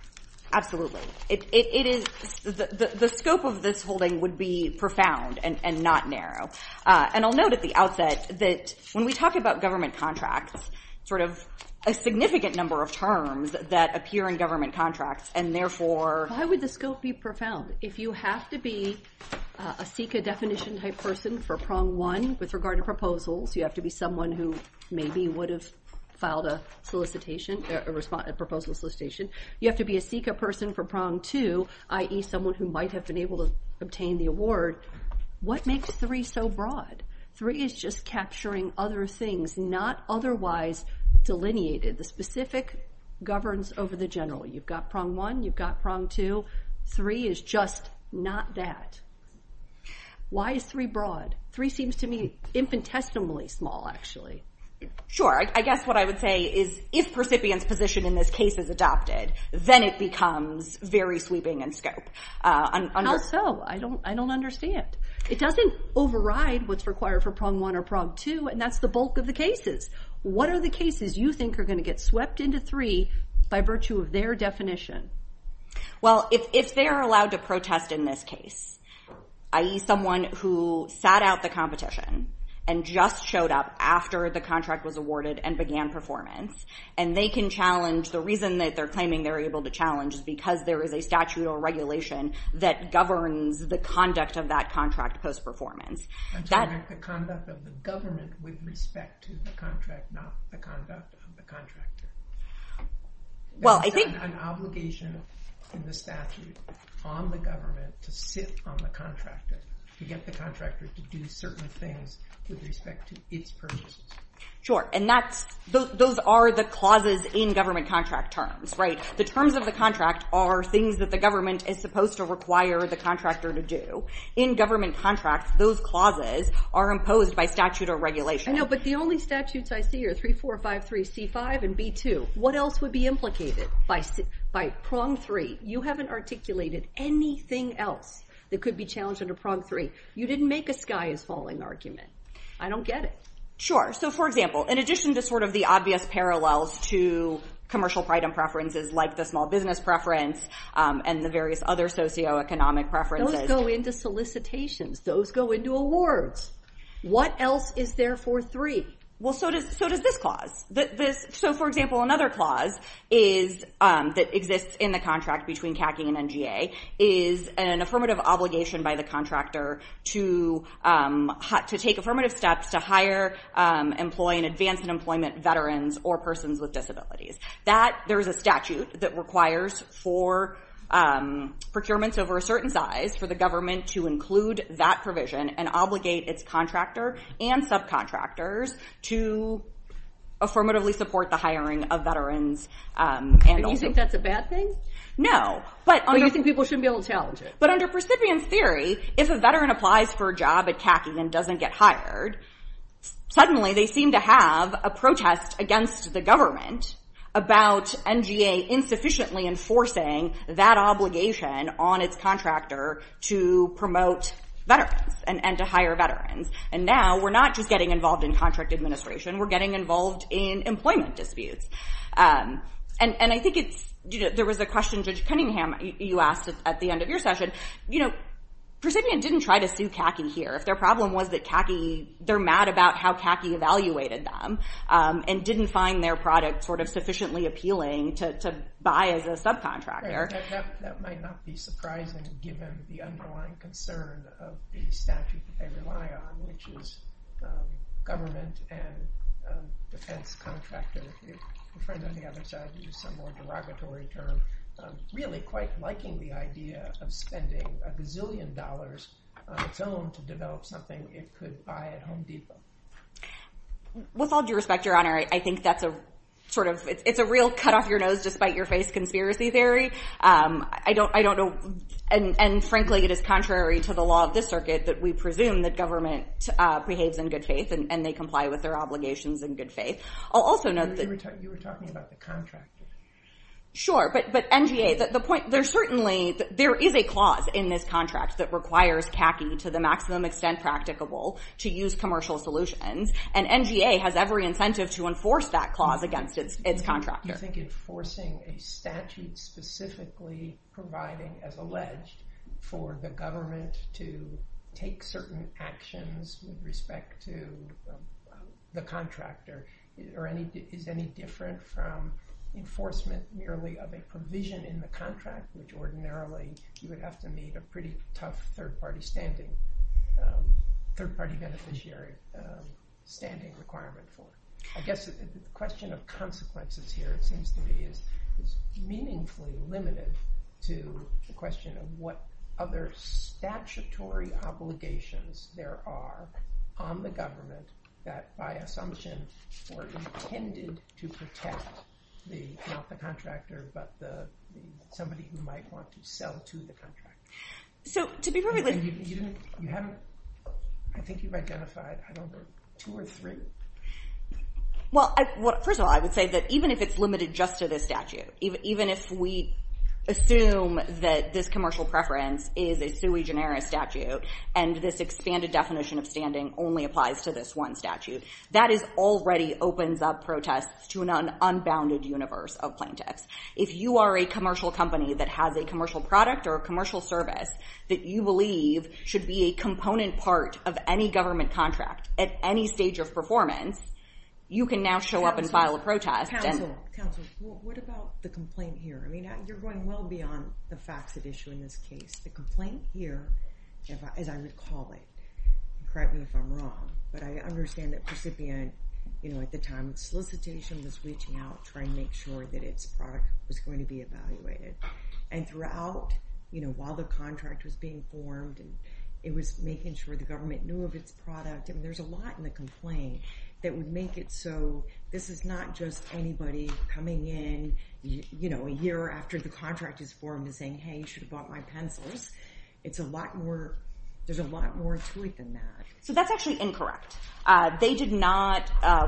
Absolutely. The scope of this holding would be profound and not narrow, and I'll note at the outset that when we talk about government contracts, a significant number of terms that appear in government contracts and therefore... Why would the scope be profound? If you have to be a SECA definition type person for prong one with regard to proposals, you have to be someone who maybe would have filed a solicitation, a proposal solicitation, you have to be a SECA person for prong two, i.e. someone who might have been able to obtain the award. What makes three so broad? Three is just capturing other things, not otherwise delineated. The specific governs over the general. You've got prong one, you've got prong two. Three is just not that. Why is three broad? Three seems to me infinitesimally small, actually. Sure. I guess what I would say is if the recipient's position in this case is adopted, then it becomes very sweeping in scope. How so? I don't understand. It doesn't override what's required for prong one or prong two, and that's the bulk of the cases. What are the cases you think are going to get swept into three by virtue of their definition? Well, if they're allowed to protest in this case, i.e. someone who sat out the competition and just showed up after the contract was awarded and began performance, and they can challenge, the reason that they're claiming they're able to challenge is because there is a statute or regulation that governs the conduct of that contract post-performance. The conduct of the government with respect to the contract, not the conduct of the contractor. Well, I think... There's an obligation in the statute on the government to sit on the contractor, to get the contractor to do certain things with each purchase. Sure, and those are the clauses in government contract terms, right? The terms of the contract are things that the government is supposed to require the contractor to do. In government contracts, those clauses are imposed by statute or regulation. I know, but the only statutes I see are 3453C5 and B2. What else would be implicated by prong three? You haven't articulated anything else that could be challenged under prong three. You didn't make a sky falling argument. I don't get it. Sure. So, for example, in addition to sort of the obvious parallels to commercial item preferences like the small business preference and the various other socioeconomic preferences... Those go into solicitations. Those go into awards. What else is there for three? Well, so does this clause. So, for example, another clause that exists in the contract between CACI and NGA is an affirmative obligation by the contractor to take affirmative steps to hire, employ, and advance in employment veterans or persons with disabilities. There's a statute that requires for procurements over a certain size for the government to include that provision and obligate its contractor and subcontractors to affirmatively support the hiring of veterans. And you think that's a bad thing? No. So you think people shouldn't be able to do that. But under presidium theory, if a veteran applies for a job at CACI and doesn't get hired, suddenly they seem to have a protest against the government about NGA insufficiently enforcing that obligation on its contractor to promote veterans and to hire veterans. And now we're not just getting involved in contract administration. We're getting involved in employment disputes. And I think there was a question, Judge Cunningham, you asked at the end of your session. Presidium didn't try to sue CACI here. Their problem was that CACI they're mad about how CACI evaluated them and didn't find their product sufficiently appealing to buy as a subcontractor. That might not be surprising given the underlying concern of the statute NMIA, which is government and contractor. I'm trying to think of a more derogatory term. Really quite liking the idea of spending a gazillion dollars on a film to develop something it could buy at Home Depot. With all due respect, Your Honor, I think that's a sort of it's a real cut off your nose, just bite your face conspiracy theory. I don't know. And frankly it is contrary to the law of this circuit that we presume that government behaves in good faith and they comply with their obligations in good faith. You were talking about the contractor. Sure, but NGA there's certainly a clause in this contract that requires CACI to the maximum extent practicable to use commercial solutions and NGA has every incentive to enforce that clause against its contractor. I think enforcing a statute specifically providing as alleged for the government to take certain actions with respect to the contractor is any different from enforcement nearly of a provision in the contract which ordinarily you would have to meet a pretty tough third party standing third party beneficiary standing requirement for. I guess the question of consequences here it seems to me is meaningfully limited to the question of what other statutory obligations there are on the government that by assumption were intended to protect not the contractor but the somebody who might want to sell to the contractor. I think you've identified two or three. Well, first of all I would say that even if it's limited just to the statute even if we assume that this commercial preference is a sui generis statute and this extended definition of standing only applies to this one statute that already opens up protests to an unbounded universe of plaintiffs. If you are a commercial company that has a commercial product or a commercial service that you believe should be a component part of any government contract at any stage of performance you can now show up and file a protest. Counselor, what about the complaint here? I mean you're going well beyond the facts of issue in this case. The complaint here, as I would call it, correct me if I'm wrong, but I understand that at the time solicitation was reaching out trying to make sure that its product was going to be evaluated and throughout while the contract was being formed it was making sure the government knew of its product and there's a lot in the complaint that would make it so this is not just anybody coming in a year after the contract is formed and saying hey you should have bought my pencils it's a lot more there's a lot more to it than that. So that's actually incorrect. They did not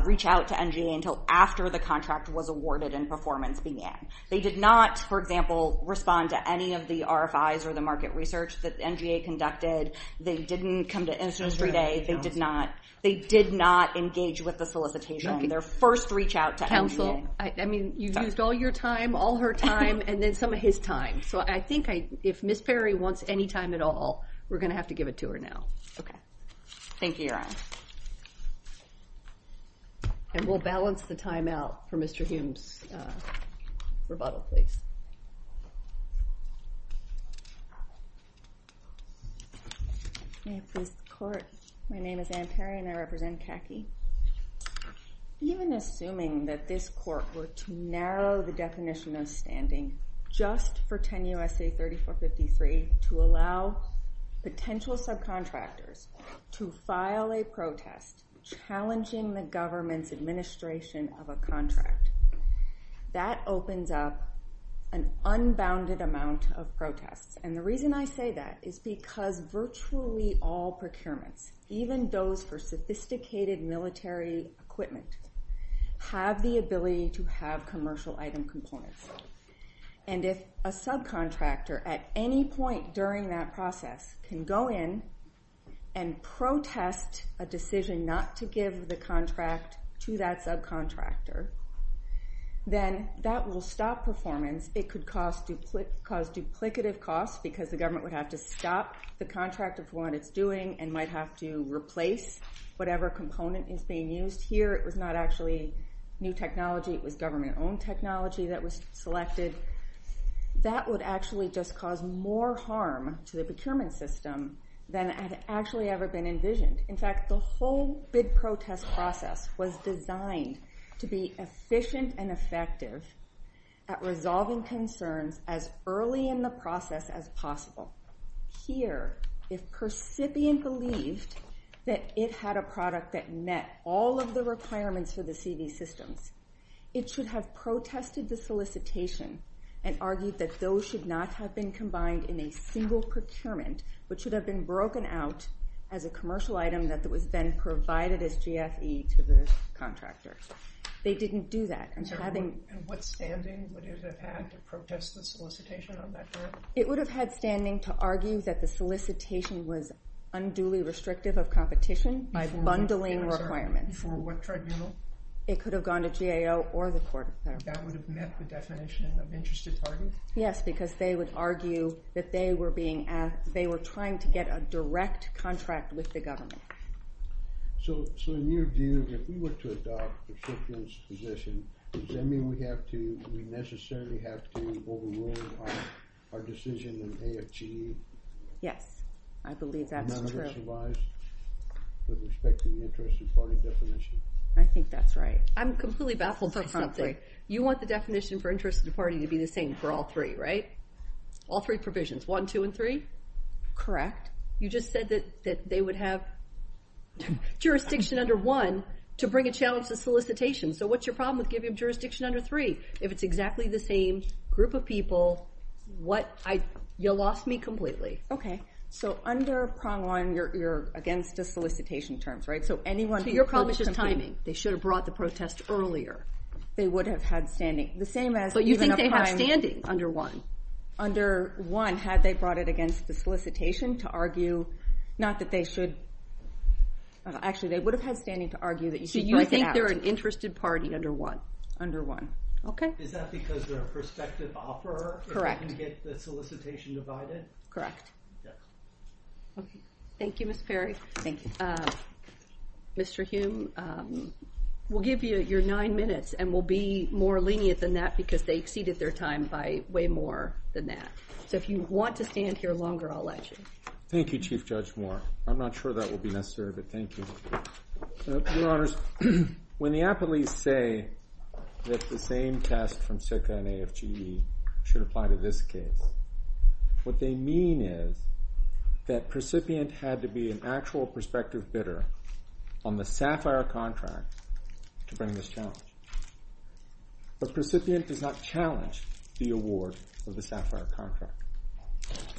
reach out to MGA until after the contract was awarded and performance began. They did not for example respond to any of the RFIs or the market research that MGA conducted. They didn't come to instance for days. They did not engage with the solicitation in their first reach out to MGA. I mean you've used all your time all her time and then some of his time so I think if Ms. Perry wants any time at all we're going to have to give it to her now. Thank you. And we'll balance the time out for Mr. Hume's rebuttal please. My name is Ann Perry and I represent CACI. Even assuming that this court were to narrow the definition of standing just for 10 U.S.A. 3453 to allow potential subcontractors to file a protest challenging the government's administration of a contract that opens up an unbounded amount of protests and the reason I say that is because virtually all procurements even those for sophisticated military equipment have the ability to have commercial item components and if a subcontractor at any point during that process can go in and protest a decision not to give the contract to that subcontractor then that will stop performance it could cause duplicative costs because the government would have to stop the contract if one is doing and might have to replace whatever component is being used. Here it was not actually new technology it was government owned technology that was selected. That would actually just cause more harm to the procurement system than had actually ever been envisioned. In fact the whole bid protest process was designed to be efficient and effective at resolving concerns as early in the process as possible. Here if percipient believes that it had a product that met all of the requirements for the CV system it should have protested the solicitation and argued that those should not have been combined in a single procurement but should have been broken out as a commercial item that was then provided as GFE to the contractors. They didn't do that. And what standing would it have had to protest the solicitation It would have had standing to argue that the solicitation was unduly restrictive of competition by bundling requirements. It could have gone to GAO or the court. Yes because they would argue that they were trying to get a direct contract with the government. So in your view, if we were to adopt Percipient's position does that mean we necessarily have to overrule our decision in AFGE Yes, I believe that's true. I think that's right. I'm completely baffled by something. You want the definition for interest of the party to be the same for all three, right? All three provisions. One, two, and three? Correct. You just said that they would have jurisdiction under one to bring a challenge to solicitation. So what's your problem with giving jurisdiction under three? If it's exactly the same group of people you lost me completely. Okay, so under prong one, you're against the solicitation terms, right? So anyone who publishes timing, they should have brought the protest earlier, they would have had standing. So you think they have standing under one? Under one had they brought it against the solicitation to argue, not that they should actually, they would have had standing to argue that you should consider an interested party under one. Is that because they're a prospective offeror? Correct. Thank you, Mr. Perry. Mr. Hume, we'll give you your nine minutes and we'll be more lenient than that because they exceeded their time by way more than that. So if you want to stand here longer, I'll let you. Thank you, Chief Judge Moore. I'm not sure that will be necessary, but thank you. Your Honors, when the appellees say that the same test from SIPC and AFGE should apply to this case, what they mean is that the recipient had to be an actual prospective bidder on the SAFIRE contract to bring this challenge. The recipient does not challenge the award of the SAFIRE contract.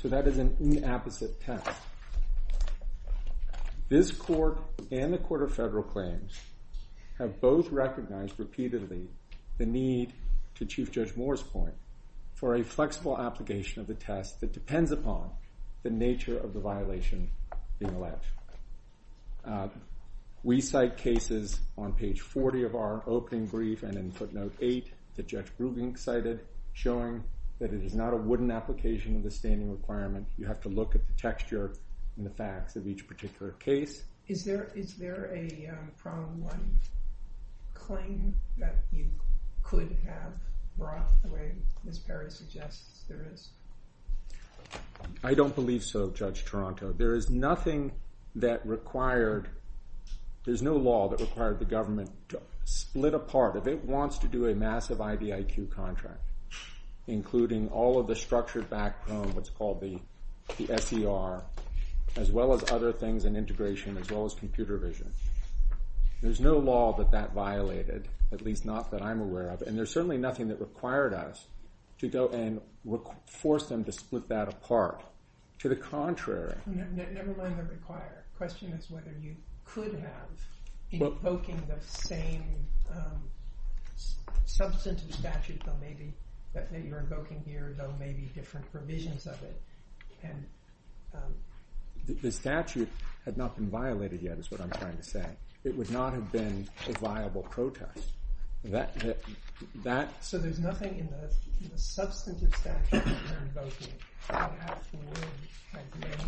So that is an inapposite test. This court and the Court of Federal Claims have both recognized repeatedly the need to Chief Judge Moore's point for a flexible application of the test that depends upon the nature of the violation being left. We cite cases on page 40 of our opening brief and in footnote 8 that Judge Brubing cited showing that it is not a wooden application of the requirement. You have to look at the texture and the facts of each particular case. Is there a from one claim that you could have brought away as Perry suggests there is? I don't believe so, Judge Toronto. There is nothing that required, there's no law that required the government to split apart. If it wants to do a massive IBIQ contract, including all of the structured background that's called the FDR, as well as other things in integration, as well as computer vision. There's no law that that violated, at least not that I'm aware of. And there's certainly nothing that required us to go and force them to split that apart. To the contrary. Never mind the required. The question is whether you could have invoking the same substantive statute that maybe you're invoking here though maybe different provisions of it. The statute had not been violated yet is what I'm trying to say. It would not have been a viable protest. So there's nothing in the substantive statute that you're invoking that would have to win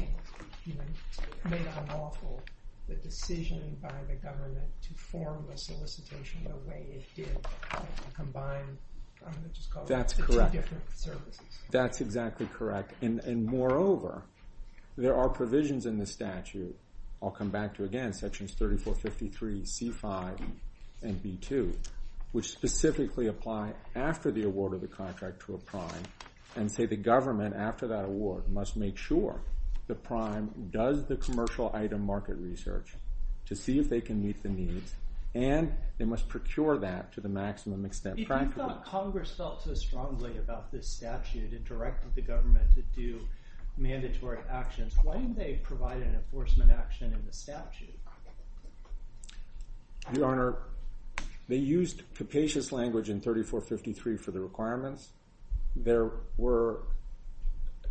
made unlawful the decision by the government to form the solicitation the way it did combined. That's correct. That's exactly correct. And moreover, there are provisions in the statute, I'll come back to again, sections 3453, C5, and B2, which specifically apply after the award of the contract to a prime and say the government after that award must make sure the prime does the commercial item market research to see if they can meet the needs and they must procure that to the maximum extent. Congress felt so strongly about this statute and directed the government to do mandatory actions. Why didn't they provide an enforcement action in the statute? Your Honor, they used capacious language in 3453 for the requirements. There were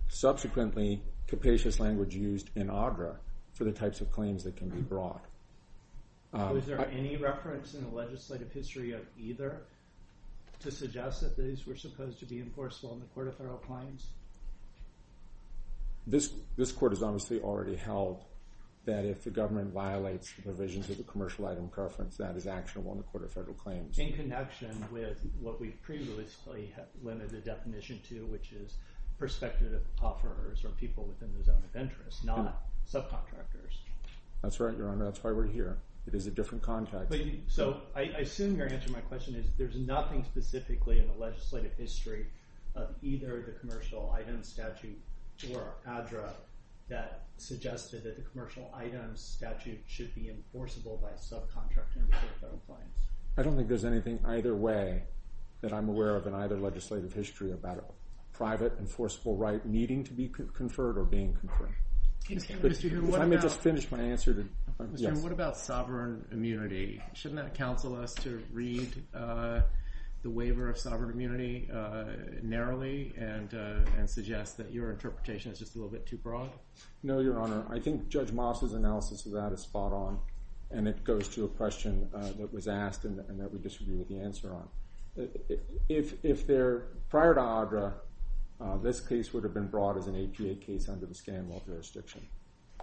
subsequently capacious language used in AGRA for the types of claims that can be brought. Was there any reference in the legislative history of either to suggest that these were supposed to be enforceable in the Court of Federal Claims? This Court has obviously already held that if the government violates the provisions of the commercial item preference, that is actionable in the Court of Federal Claims. In connection with what we've previously limited the definition to, which is prospective offerors or people within the zone of interest, not subcontractors. That's right, Your Honor. That's why we're here. It is a different context. I assume your answer to my question is there's nothing specifically in the legislative history of either the commercial item statute or AGRA that suggested that the commercial item statute should be enforceable by subcontractors in the Court of Federal Claims. I don't think there's anything either way that I'm aware of in either legislative history about a private enforceable right needing to be conferred or being conferred. Let me just finish my answer. What about sovereign immunity? Shouldn't that counsel us to read the waiver of sovereign immunity narrowly and suggest that your interpretation is just a little bit too broad? No, Your Honor. I think Judge Moss's analysis of that is spot on, and it goes to a question that was asked and that we just didn't get the answer on. If there, prior to AGRA, this case would have been brought as an APA case under the Scanlon jurisdiction.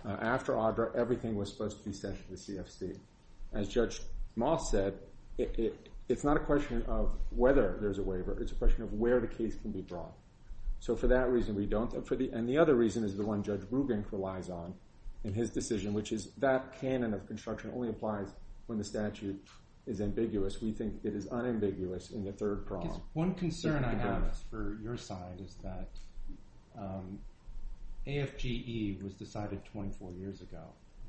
After AGRA, everything was supposed to be sent to the CFC. As Judge Moss said, it's not a question of whether there's a waiver. It's a question of where the case can be brought. So for that reason, we don't. And the other reason is the one Judge Brubank relies on in his decision, which is that canon of construction only applies when the statute is ambiguous. We think it is unambiguous in the third prong. One concern I have for your side is that AFGE was decided 24 years ago.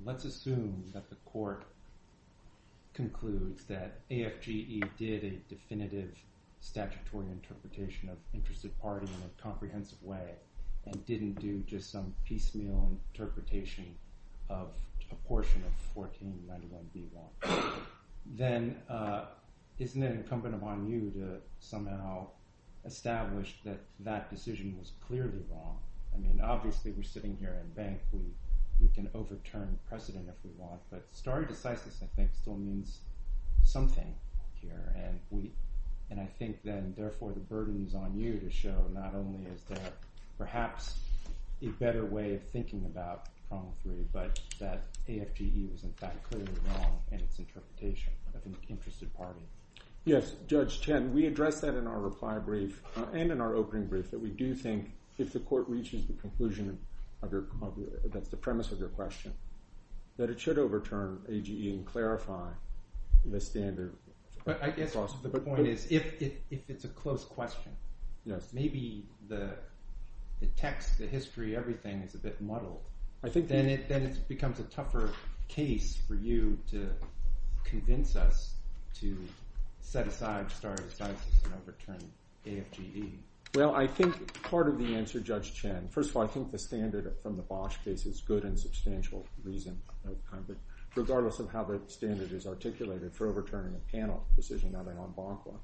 Let's assume that the court concludes that AFGE did a definitive statutory interpretation of interested parties in a comprehensive way and didn't do just some piecemeal interpretation of a portion of the 1499B law. Then isn't it incumbent upon you to somehow establish that that decision was clearly wrong? I mean, obviously, we're sitting here in bank. We can overturn precedent if we want, but starting to cite this, I think, still means something here. And I think then, therefore, the burden is on you to show not only is there perhaps a better way of thinking about commentary, but that AFGE was, in fact, clearly wrong in its interpretation of an interested party. Yes, Judge Chen, we addressed that in our reply brief and in our opening brief that we do think if the court reaches the conclusion of the premise of your question that it should overturn AGE and clarify the standard. The point is, if it's a close question, maybe the text, the history, everything is a bit muddled. Then it becomes a tougher case for you to convince us to set aside and start and overturn AFGE. Well, I think part of the answer, Judge Chen, first of all, I think the standard from the Bosch case is good and substantial regardless of how the standard is articulated for overturning a panel decision of a non-bancor.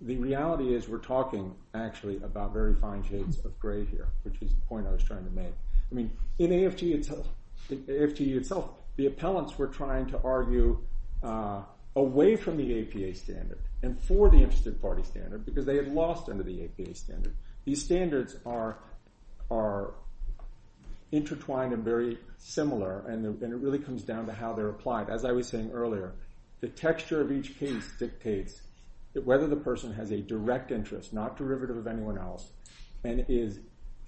The reality is we're talking, actually, about very fine haze of gray here, which is the point I was trying to make. I mean, in AFGE itself, the appellants were trying to argue away from the APA standard and for the Interested Party standard because they had lost under the APA standard. These standards are intertwined and very similar and it really comes down to how they're applied. As I was saying earlier, the texture of each case dictates whether the person has a direct interest, not derivative of anyone else, and would be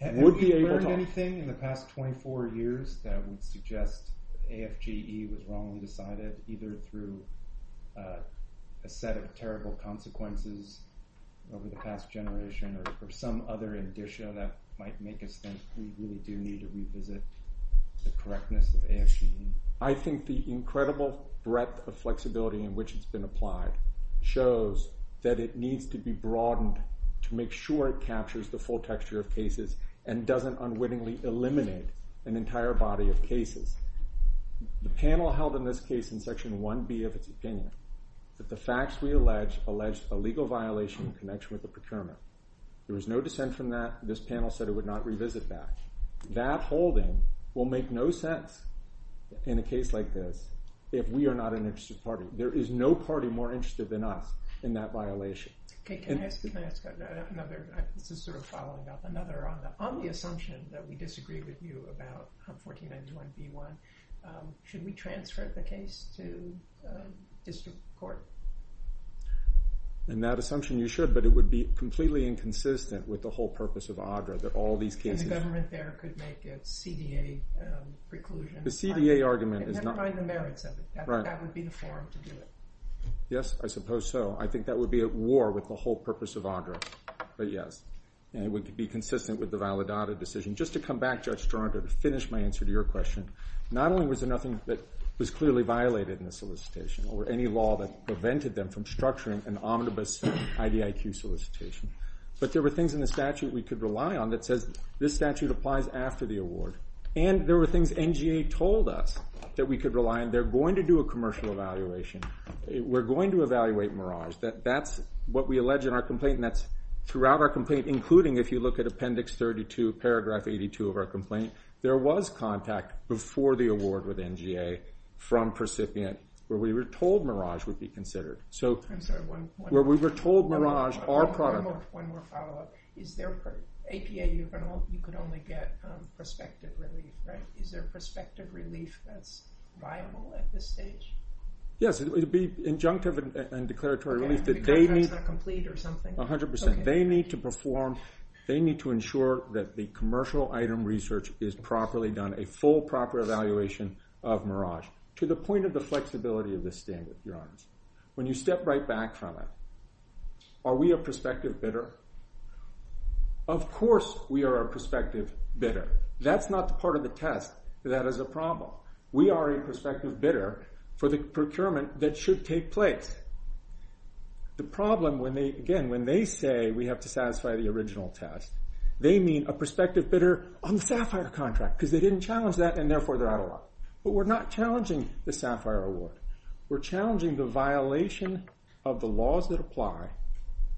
able to... Have you learned anything in the past 24 years that would suggest AFGE was wrongly decided, either through a set of terrible consequences over the past generation or some other addition that might make it so we really do need to revisit the correctness of AFGE? I think the incredible breadth of flexibility in which it's been applied shows that it needs to be broadened to make sure it captures the full texture of cases and doesn't unwittingly eliminate an entire body of cases. The panel held in this case in section 1B of its opinion that the facts we allege, allege a legal violation in connection with the procurement. There was no dissent from that. This panel said it would not revisit that. That holding will make no sense in a case like this if we are not an interested party. There is no party more interested than us in that violation. Can I ask another... This is sort of following up another. On the assumption that we disagree with you about 1491B1, should we transfer the case to district court? In that assumption you should, but it would be completely inconsistent with the whole purpose of AGRA that all these cases... The government there could make a CDA preclusion. The CDA argument is not... Never mind the merits of it. That would be the forum to do it. Yes, I suppose so. I think that would be at war with the whole purpose of AGRA, but yes. And it would be consistent with the Validado decision. Just to come back, Judge Turner, to finish my answer to your question. Not only was there nothing that was clearly violated in the solicitation, or any law that prevented them from structuring an omnibus IDIQ solicitation, but there were things in the statute we could rely on that says this statute applies after the award. And there were things NGA told us that we could rely on. They're going to do a commercial evaluation. We're going to evaluate Mirage. That's what we allege in our complaint, and that's throughout our complaint, including if you look at Appendix 32, Paragraph 82 of our complaint, there was contact before the award with NGA from recipient where we were told Mirage would be considered. So... Where we were told Mirage... One more follow-up. Is there... APA, you can only get prospective relief, right? Is there prospective relief that's viable at this stage? Yes, it would be injunctive and declaratory relief, but they need... 100%. They need to perform, they need to ensure that the commercial item research is properly done, a full, proper evaluation of Mirage, to the point of the flexibility of this standard, to be honest. When you step right back from it, are we a prospective bidder? Of course we are a prospective bidder. That's not part of the test. That is a problem. We are a prospective bidder for the procurement that should take place. The problem, again, when they say we have to satisfy the original test, they mean a prospective bidder on the SAFIRE contract, because they didn't challenge that and therefore they're out of luck. But we're not challenging the SAFIRE award. We're challenging the violation of the laws that apply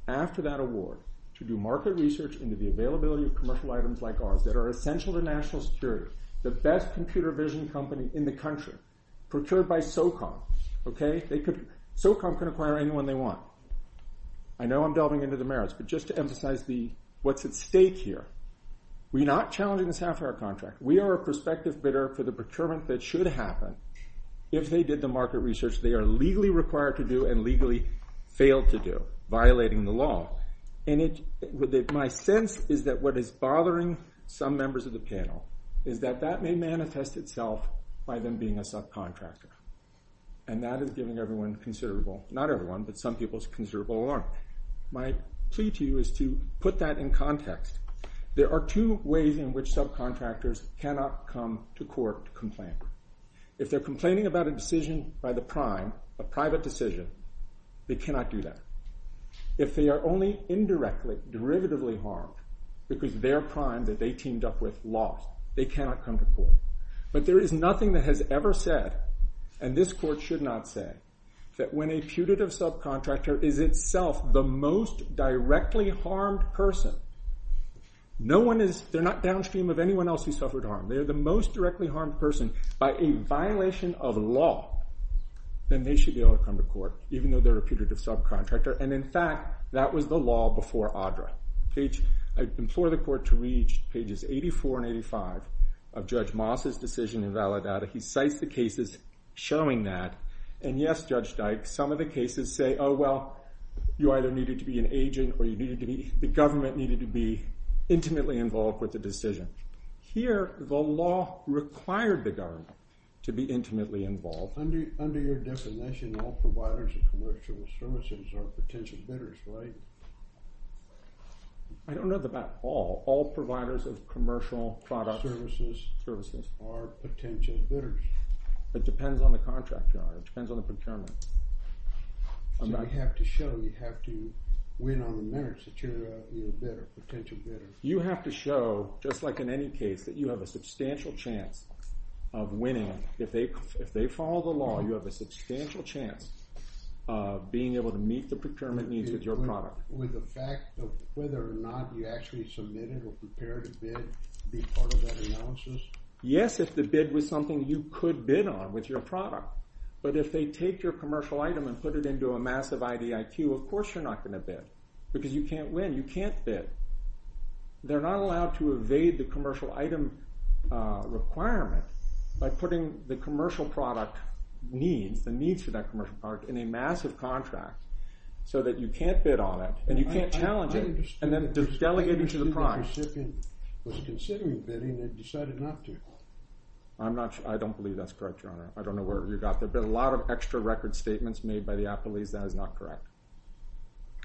after that award to do market research into the availability of commercial items like ours that are essential to national security. The best computer vision company in the country, procured by SOCOM. SOCOM can acquire anyone they want. I know I'm delving into the merits, but just to emphasize what's at stake here. We're not challenging the SAFIRE contract. We are a prospective bidder for the procurement that should happen if they did the market research they are legally required to do and legally failed to do, violating the law. My sense is that what is bothering some members of the panel is that that may manifest itself by them being a subcontractor. And that is giving everyone considerable, not everyone, but some people's considerable alarm. My plea to you is to put that in context. There are two ways in which subcontractors cannot come to court to complain. If they're complaining about a decision by the prime, a private decision, they cannot do that. If they are only indirectly, derivatively harmed, because their prime that they teamed up with lost, they cannot come to court. But there is nothing that has ever said, and this court should not say, that when a putative subcontractor is itself the most directly harmed person, they're not downstream of anyone else who suffered harm. They're the most directly harmed person. By a violation of law, then they should be able to come to court, even though they're a putative subcontractor. And in fact, that was the law before ADRA. I implore the court to read pages 84 and 85 of Judge Moss' decision in Valedada. He cites the cases showing that. And yes, Judge Dyke, some of the cases say, oh well, you either needed to be an agent, or the government needed to be intimately involved with the decision. Here, the law required the government to be intimately involved. Under your definition, all providers of commercial services are potential bidders, right? I don't know about all. All providers of commercial services are potential bidders. It depends on the contract. It depends on the You have to show you have to win on the merits that you're a potential bidder. You have to show, just like in any case, that you have a substantial chance of winning if they follow the law. You have a substantial chance of being able to meet the procurement needs of your product. Whether or not you actually submitted or prepared a bid to be part of that analysis? Yes, if the bid was something you could bid on with your product. But if they take your commercial item and put it into a massive IDIT, of course you're not going to bid. Because you can't win. You can't bid. They're not allowed to evade the commercial item requirement by putting the commercial product needs, the needs for that commercial product, in a massive contract so that you can't bid on it and you can't challenge it and then delegate it to the prize. ...was considering bidding and decided not to. I'm not sure. I don't believe that's correct, Your Honor. I don't know where you got that. There's been a lot of extra record statements made by the appellees. That is not correct.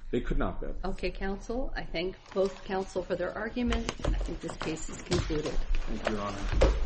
They could not bid. Okay, counsel. I thank both counsel for their argument. And I think this case is concluded.